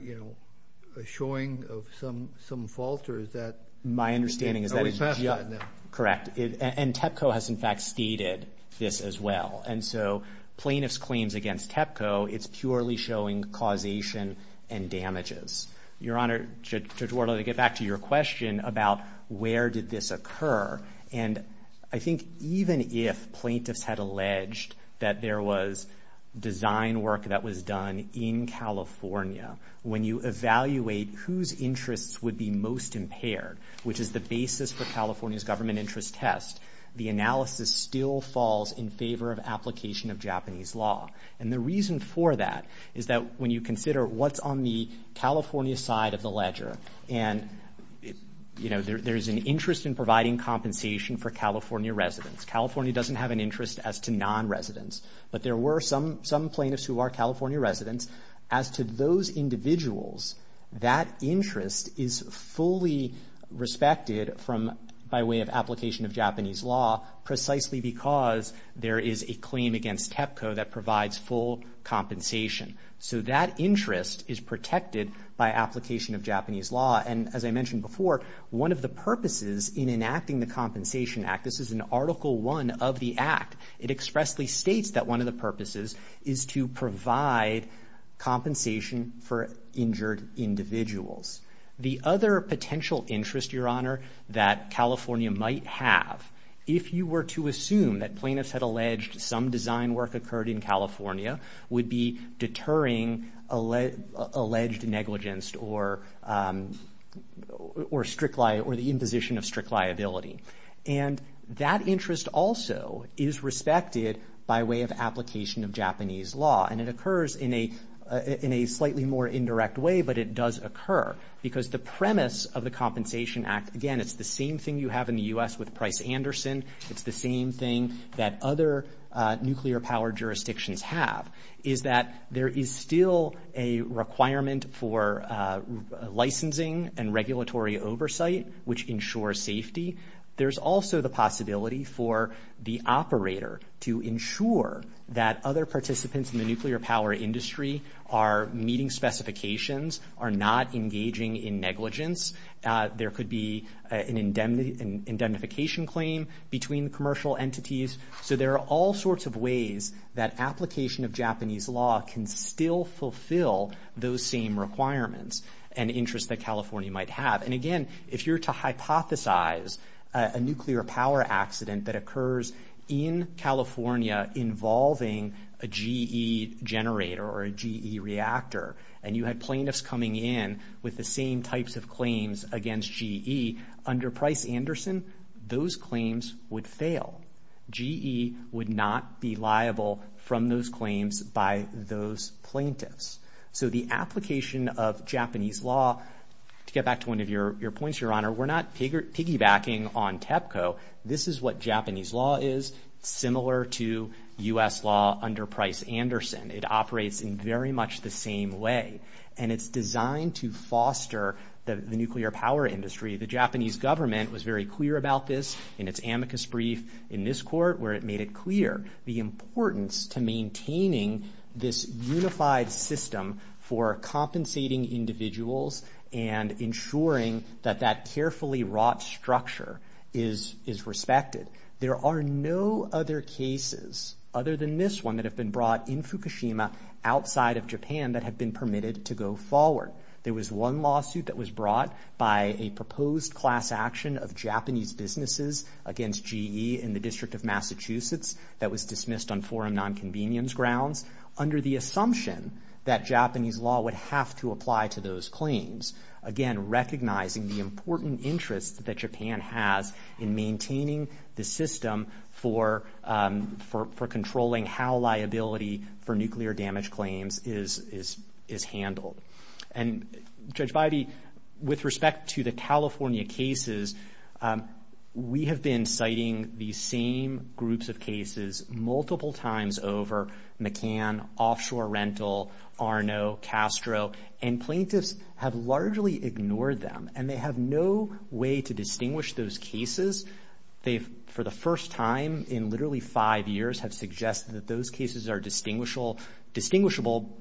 a showing of some fault or is that... My understanding is that it's... Correct. And TEPCO has, in fact, stated this as well. And so plaintiff's claims against TEPCO, it's purely showing causation and damages. Your Honor, Judge Ward, let me get back to your question about where did this occur. And I think even if plaintiffs had alleged that there was design work that was done in California, when you evaluate whose interests would be most impaired, which is the basis for California's government interest test, the analysis still falls in favor of application of Japanese law. And the reason for that is that when you consider what's on the California side of the ledger, and there's an interest in providing compensation for California residents. California doesn't have an interest as to non-residents, but there were some plaintiffs who are California residents as to those individuals, that interest is fully respected by way of application of Japanese law, precisely because there is a claim against TEPCO that provides full compensation. So that interest is protected by application of Japanese law. And as I mentioned before, one of the purposes in enacting the Compensation Act, this is in Article I of the Act, it expressly states that one of the purposes is to provide compensation for injured individuals. The other potential interest, Your Honor, that California might have, if you were to assume that plaintiffs had alleged some design work occurred in California, would be deterring alleged negligence or the imposition of strict liability. And that interest also is respected by way of application of Japanese law. And it occurs in a slightly more indirect way, but it does occur because the premise of the Compensation Act, again, it's the same thing you have in the U.S. with Price-Anderson. It's the same thing that other nuclear power jurisdictions have is that there is still a requirement for licensing and regulatory oversight, which ensures safety. There's also the possibility for the operator to ensure that other participants in the nuclear power industry are meeting specifications, are not engaging in negligence. There could be an indemnification claim between commercial entities. So there are all sorts of ways that application of Japanese law can still fulfill those same requirements and interests that California might have. And again, if you were to hypothesize a nuclear power accident that occurs in California involving a GE generator or a GE reactor, and you had plaintiffs coming in with the same types of claims against GE, under Price-Anderson, those claims would fail. GE would not be liable from those claims by those plaintiffs. So the application of Japanese law, to get back to one of your points, Your Honor, we're not piggybacking on TEPCO. This is what Japanese law is, similar to U.S. law under Price-Anderson. It operates in very much the same way. And it's designed to foster the nuclear power industry. The Japanese government was very clear about this in its amicus brief in this court, where it made it clear the importance to maintaining this unified system for compensating individuals and ensuring that that carefully wrought structure is respected. There are no other cases other than this one that have been brought in Fukushima outside of Japan that have been permitted to go forward. There was one lawsuit that was brought by a proposed class action of Japanese businesses against GE in the District of Massachusetts that was dismissed on foreign nonconvenience grounds under the assumption that Japanese law would have to apply to those claims. Again, recognizing the important interest that Japan has in maintaining the system for controlling how liability for nuclear damage claims is handled. And Judge Bidey, with respect to the California cases, we have been citing the same groups of cases multiple times over McCann, Offshore Rental, Arno, Castro, and plaintiffs have largely ignored them and they have no way to distinguish those cases. They've, for the first time in literally five years, have suggested that those cases are distinguishable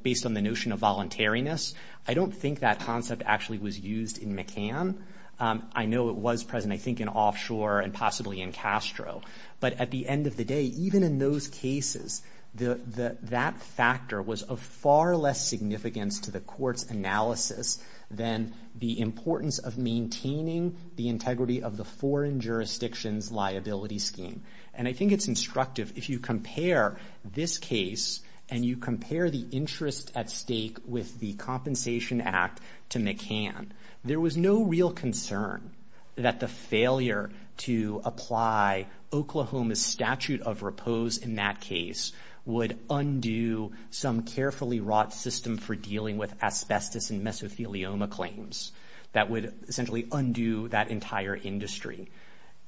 based on the notion of voluntariness. I don't think that concept actually was used in McCann. I know it was present, I think, in Offshore and possibly in Castro. But at the end of the day, even in those cases, that factor was of far less significance to the court's analysis than the importance of maintaining the integrity of the foreign jurisdiction's liability scheme. And I think it's instructive if you compare this case and you compare the interest at stake with the Compensation Act to McCann. There was no real concern that the failure to apply Oklahoma's statute of repose in that case would undo some carefully wrought system for dealing with asbestos and mesothelioma claims that would essentially undo that entire industry.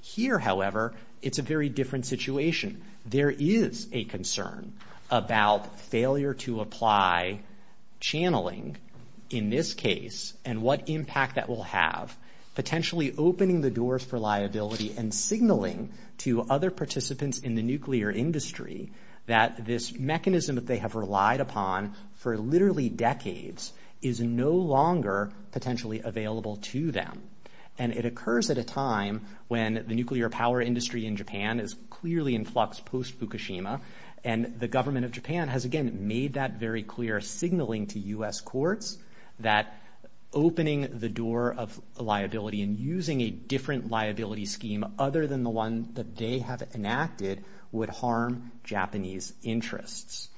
Here, however, it's a very different situation. There is a concern about failure to apply channeling in this case and what impact that will have potentially opening the doors for liability and signaling to other participants in the nuclear industry that this mechanism that they have relied upon for literally decades is no longer potentially available to them. And it occurs at a time when the nuclear power industry in Japan is clearly in flux post-Fukushima and the government of Japan has, again, made that very clear signaling to U.S. courts that opening the door of liability and using a different liability scheme other than the one that they have enacted would harm Japanese interests.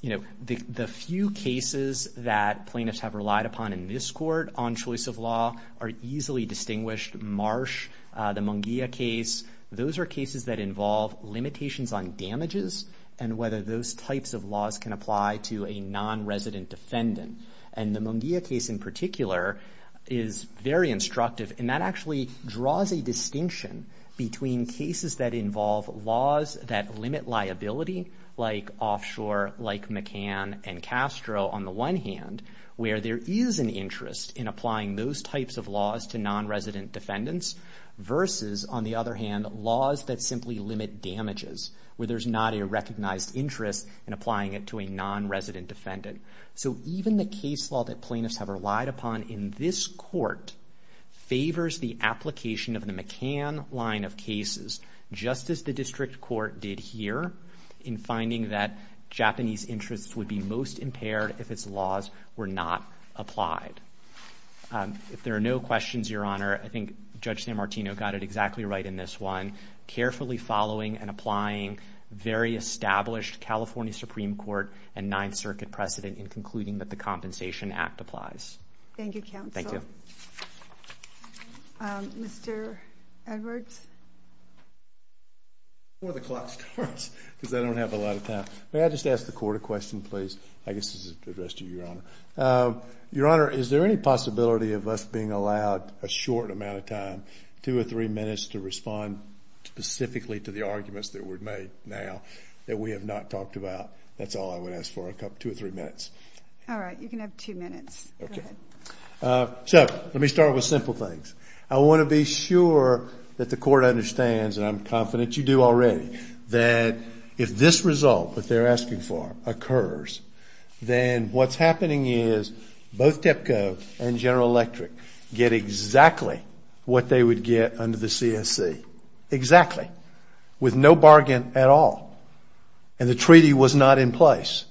You know, the few cases that plaintiffs have relied upon in this court on choice of law are easily distinguished. Marsh, the Munguia case, those are cases that involve limitations on damages and whether those types of laws can apply to a non-resident defendant. And the Munguia case in particular is very instructive and that actually draws a distinction between cases that involve laws that limit liability like offshore, like McCann and Castro on the one hand, where there is an interest in applying those types of laws to non-resident defendants versus, on the other hand, laws that simply limit damages where there's not a recognized interest in applying it to a non-resident defendant. So even the case law that plaintiffs have relied upon in this court favors the application of the McCann line of cases, just as the district court did here in finding that Japanese interests would be most impaired if its laws were not applied. If there are no questions, Your Honor, I think Judge Sanmartino got it exactly right in this one. Carefully following and applying very established California Supreme Court and Ninth Circuit precedent in concluding that the Compensation Act applies. Thank you, counsel. Thank you. Mr. Edwards? Before the clock starts, because I don't have a lot of time. May I just ask the court a question, please? I guess this is addressed to Your Honor. Your Honor, is there any possibility of us being allowed a short amount of time, two or three minutes to respond specifically to the arguments that were made now that we have not talked about? That's all I would ask for, two or three minutes. All right, you can have two minutes. So let me start with simple things. I want to be sure that the court understands, and I'm confident you do already, that if this result that they're asking for occurs, then what's happening is both TEPCO and General Electric get exactly what they would get under the CSC. Exactly. With no bargain at all. And the treaty was not in place.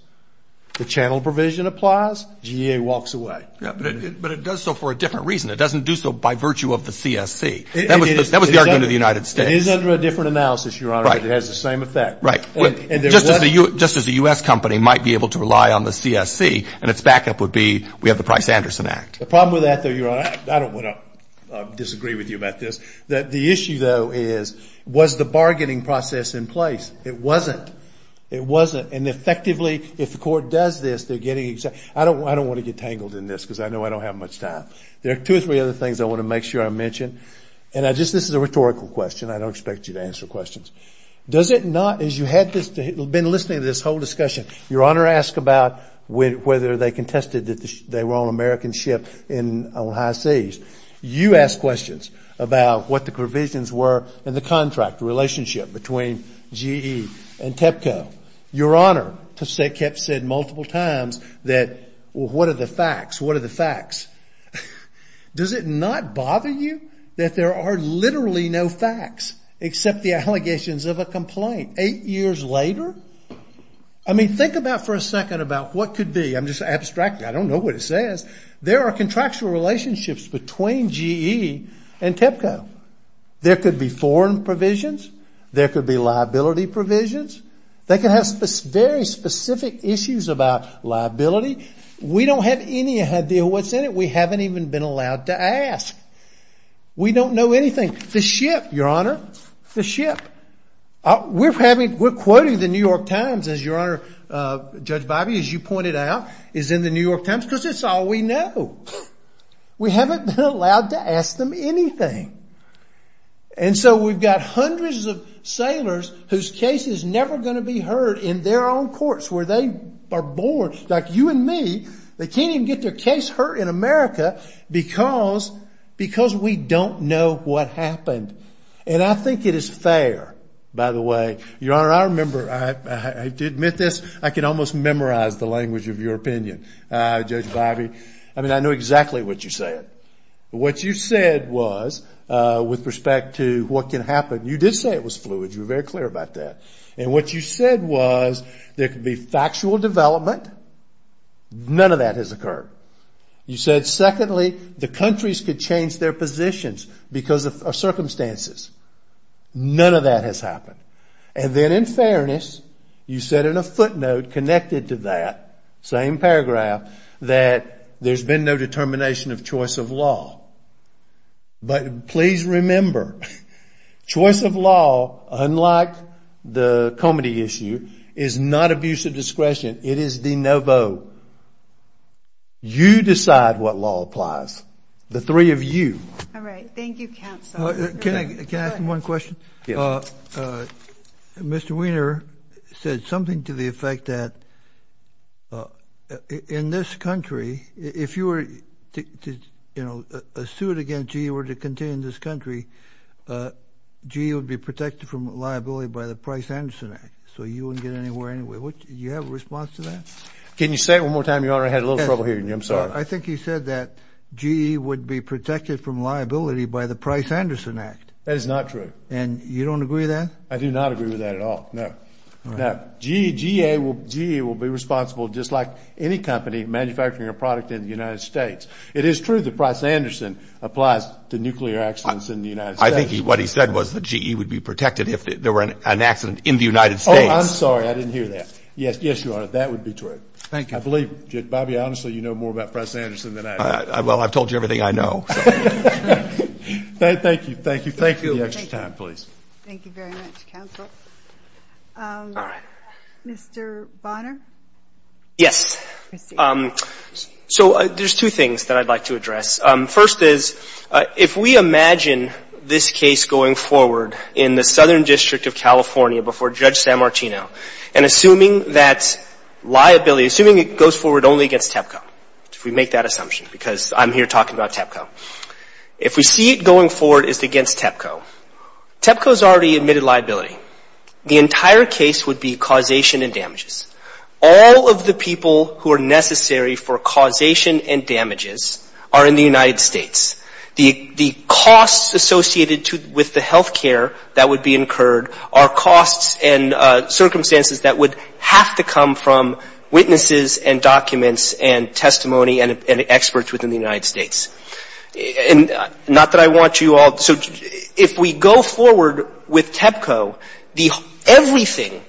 The channel provision applies. GEA walks away. But it does so for a different reason. It doesn't do so by virtue of the CSC. That was the argument of the United States. It is under a different analysis, Your Honor. It has the same effect. Right. Just as a U.S. company might be able to rely on the CSC and its backup would be, we have the Price-Anderson Act. The problem with that, though, Your Honor, I don't want to disagree with you about this, that the issue, though, is, was the bargaining process in place? It wasn't. It wasn't. And effectively, if the court does this, I don't want to get tangled in this because I know I don't have much time. There are two or three other things I want to make sure I mention. And this is a rhetorical question. I don't expect you to answer questions. Does it not, as you have been listening to this whole discussion, Your Honor asked about whether they contested that they were on American ship on high seas. You asked questions about what the provisions were in the contract relationship between GE and TEPCO. Your Honor said multiple times that, well, what are the facts? What are the facts? Does it not bother you that there are literally no facts except the allegations of a complaint eight years later? I mean, think about for a second about what could be. I'm just abstracting. I don't know what it says. There are contractual relationships between GE and TEPCO. There could be foreign provisions. There could be liability provisions. They could have very specific issues about liability. We don't have any idea what's in it. We haven't even been allowed to ask. We don't know anything. The ship, Your Honor, the ship. We're quoting the New York Times, as Your Honor, Judge Bobby, as you pointed out, is in the New York Times because it's all we know. We haven't been allowed to ask them anything. And so we've got hundreds of sailors whose case is never going to be heard in their own courts where they are born, like you and me. They can't even get their case heard in America because we don't know what happened. And I think it is fair, by the way. Your Honor, I remember, I have to admit this. I can almost memorize the language of your opinion. Judge Bobby, I mean, I know exactly what you said. What you said was, with respect to what can happen, you did say it was fluid. You were very clear about that. And what you said was there could be factual development. None of that has occurred. You said, secondly, the countries could change their positions because of circumstances. None of that has happened. And then in fairness, you said in a footnote connected to that same paragraph that there's been no determination of choice of law. But please remember, choice of law, unlike the comedy issue, is not abuse of discretion. It is de novo. You decide what law applies, the three of you. All right. Thank you, counsel. Can I ask one question? Yeah. Mr. Weiner said something to the effect that in this country, if you were to, you know, a suit against GE were to continue in this country, GE would be protected from liability by the Price-Anderson Act. So you wouldn't get anywhere anyway. You have a response to that? Can you say it one more time? Your Honor, I had a little trouble hearing you. I'm sorry. I think he said that GE would be protected from liability by the Price-Anderson Act. That is not true. And you don't agree with that? I do not agree with that at all. No, no. GE will be responsible just like any company manufacturing a product in the United States. It is true that Price-Anderson applies to nuclear accidents in the United States. I think what he said was that GE would be protected if there were an accident in the United States. Oh, I'm sorry. I didn't hear that. Yes, yes, Your Honor. That would be true. Thank you. I believe, Bobby, honestly, you know more about Price-Anderson than I do. Well, I've told you everything I know. Thank you. Thank you. Thank you for your time, please. Thank you very much, counsel. Mr. Bonner? Yes. So there's two things that I'd like to address. First is, if we imagine this case going forward in the Southern District of California before Judge San Martino, and assuming that liability, assuming it goes forward only against TEPCO, if we make that assumption, because I'm here talking about TEPCO. If we see it going forward, it's against TEPCO. TEPCO has already admitted liability. The entire case would be causation and damages. All of the people who are necessary for causation and damages are in the United States. The costs associated with the health care that would be incurred are costs and circumstances that would have to come from witnesses and documents and testimony and experts within the United States. Not that I want you all to judge. If we go forward with TEPCO, everything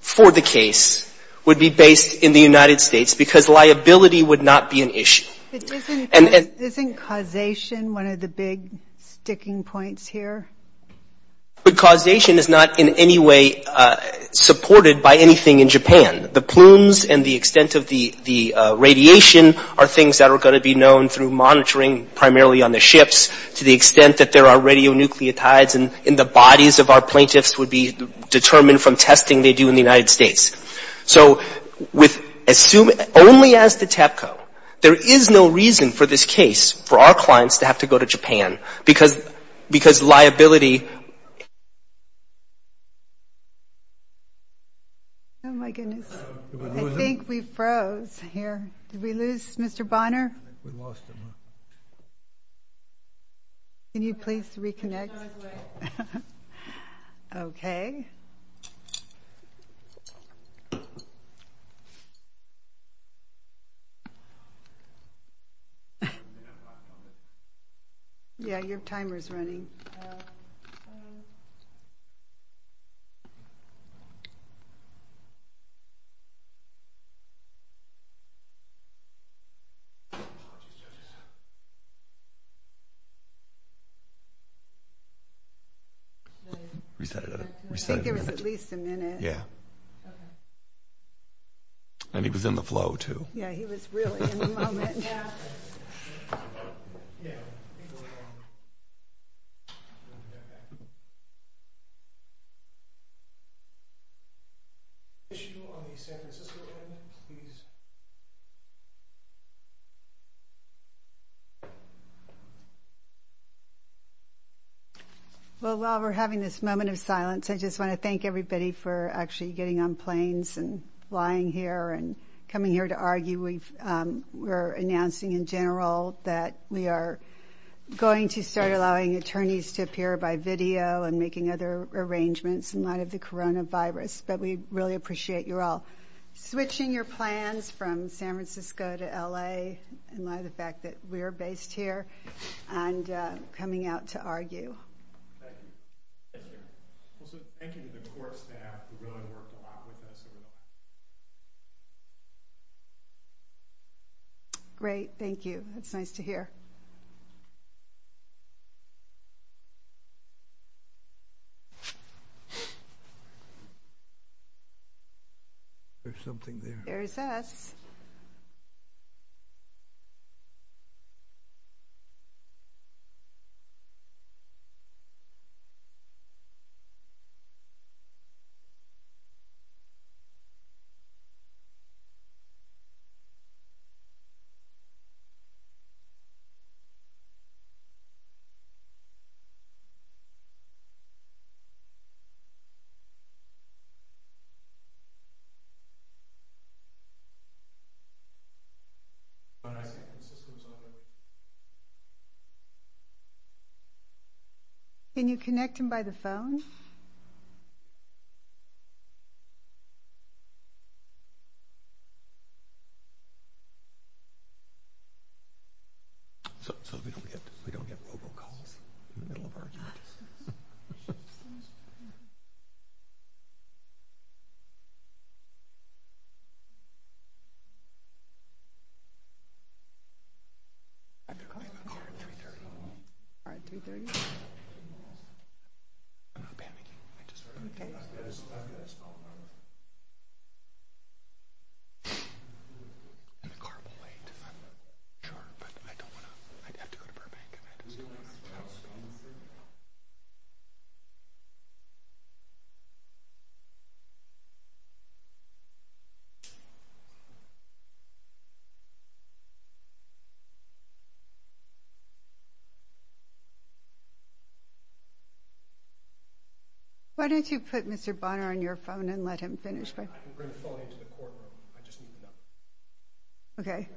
for the case would be based in the United States, because liability would not be an issue. Isn't causation one of the big sticking points here? But causation is not in any way supported by anything in Japan. The plumes and the extent of the radiation are things that are going to be known through monitoring, primarily on the ships, to the extent that there are radionucleotides in the bodies of our plaintiffs would be determined from testing they do in the United States. So only as to TEPCO, there is no reason for this case, for our clients to have to go to Japan, because liability. Oh, my goodness. I think we froze here. Did we lose Mr. Bonner? Can you please reconnect? OK. I think it was at least a minute. Yeah. And he was in the flow, too. Yeah, he was really in the moment. Well, while we're having this moment of silence, I just want to thank everybody for actually getting on planes and flying here and coming here to argue. We were announcing in general that we are going to start allowing attorneys to appear by video and making other arrangements in light of the coronavirus. But we really appreciate you all switching your plans from San Francisco to LA in light of the fact that we're based here. And coming out to argue. Great. Thank you. It's nice to hear. There's something there. There is that. Can you connect him by the phone? 330. Why don't you put Mr. Bonner on your phone and let him finish, please? I can bring the phone into the courtroom. I just need to know. OK.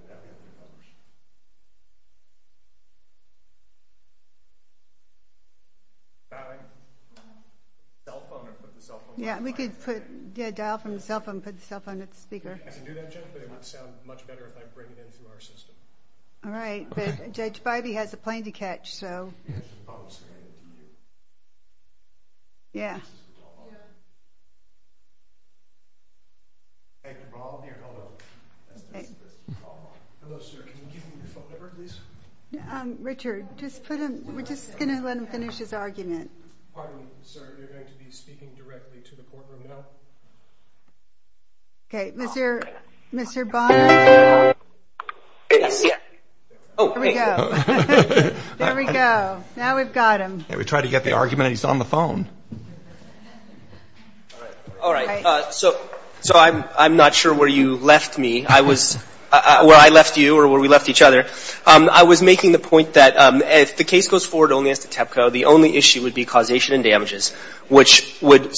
Dial phone or put the cell phone on the speaker? Yeah, we could dial from the cell phone and put the cell phone on the speaker. If you do that, Judge, it would sound much better All right. Judge, by the end of the hearing, we had the plane to catch, so. Yeah. Richard, just put him. We're just going to let him finish his argument. OK. There we go. Now we've got him. Now we try to get the argument. He's on the phone. All right. So I'm not sure where you left me. Where I left you or where we left each other. I was making the point that if the case goes forward only at the TEPCO, the only issue would be causation and damages, which would,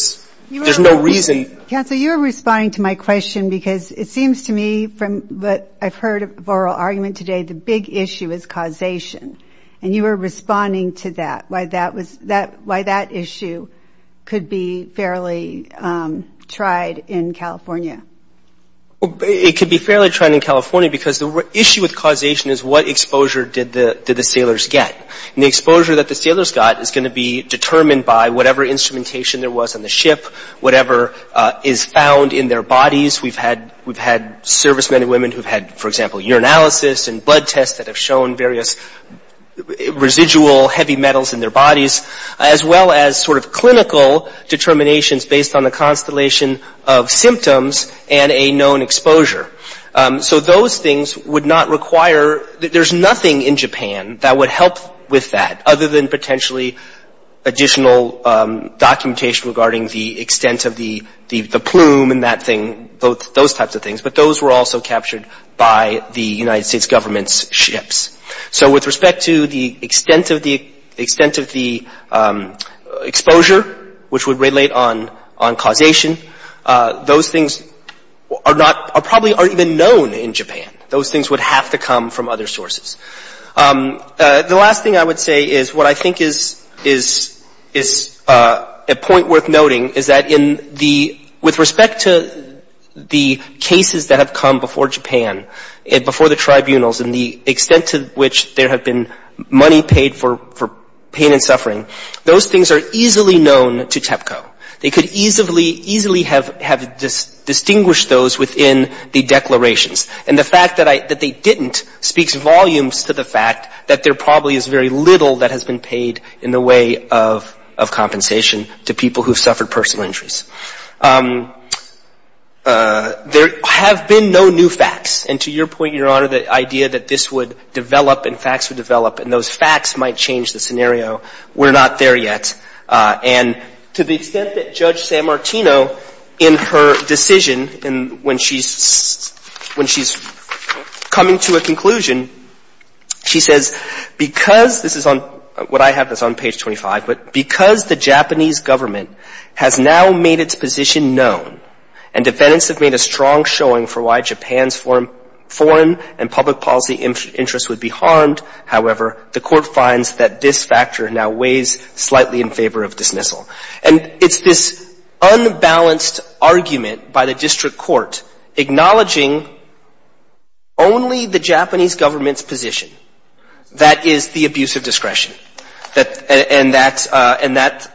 there's no reason. Yeah, so you're responding to my question because it seems to me from what I've heard of the oral argument today, the big issue is causation. And you were responding to that, why that issue could be fairly tried in California. It could be fairly tried in California because the issue with causation is what exposure did the sailors get. And the exposure that the sailors got is going to be determined by whatever instrumentation there was on the ship, whatever is found in their bodies. We've had service men and women who've had, for example, urinalysis and blood tests that have shown various residual heavy metals in their bodies, as well as sort of clinical determinations based on the constellation of symptoms and a known exposure. So those things would not require, there's nothing in Japan that would help with that, other than potentially additional documentation regarding the extent of the plume and that thing, those types of things. But those were also captured by the United States government's So with respect to the extent of the exposure, which would relate on causation, those things probably aren't even known in Japan. Those things would have to come from other sources. The last thing I would say is what I think is a point worth noting is that with respect to the cases that have come before Japan, and before the tribunals, and the extent to which there have been money paid for pain and suffering, those things are easily known to TEPCO. They could easily have distinguished those within the declarations. And the fact that they didn't speaks volumes to the fact that there probably is very little that has been paid in the way of compensation to people who've suffered personal injuries. There have been no new facts. And to your point, Your Honor, the idea that this would develop and facts would develop and those facts might change the scenario, we're not there yet. And to the extent that Judge San Martino in her decision, and when she's coming to a conclusion, she says, because this is on what I have that's on page 25, but because the Japanese government has now made its position known and defendants have made a strong showing for why Japan's foreign and public policy interests would be harmed. However, the court finds that this factor now weighs slightly in favor of dismissal. And it's this unbalanced argument by the district court acknowledging only the Japanese government's position that is the abuse of discretion, and that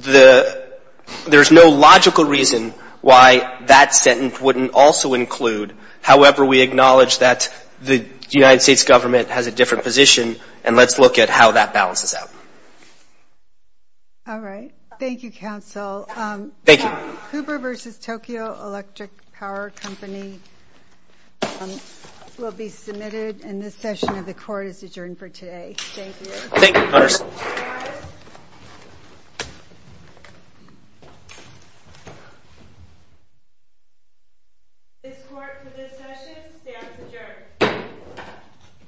there's no logical reason why that sentence wouldn't also include. However, we acknowledge that the United States government has a different position, and let's look at how that balances out. All right. Thank you, counsel. Thank you. Hoover v. Tokyo Electric Power Company will be submitted, and this session of the court is adjourned for today. Thank you. Thank you. Thank you. The court for this session stands adjourned.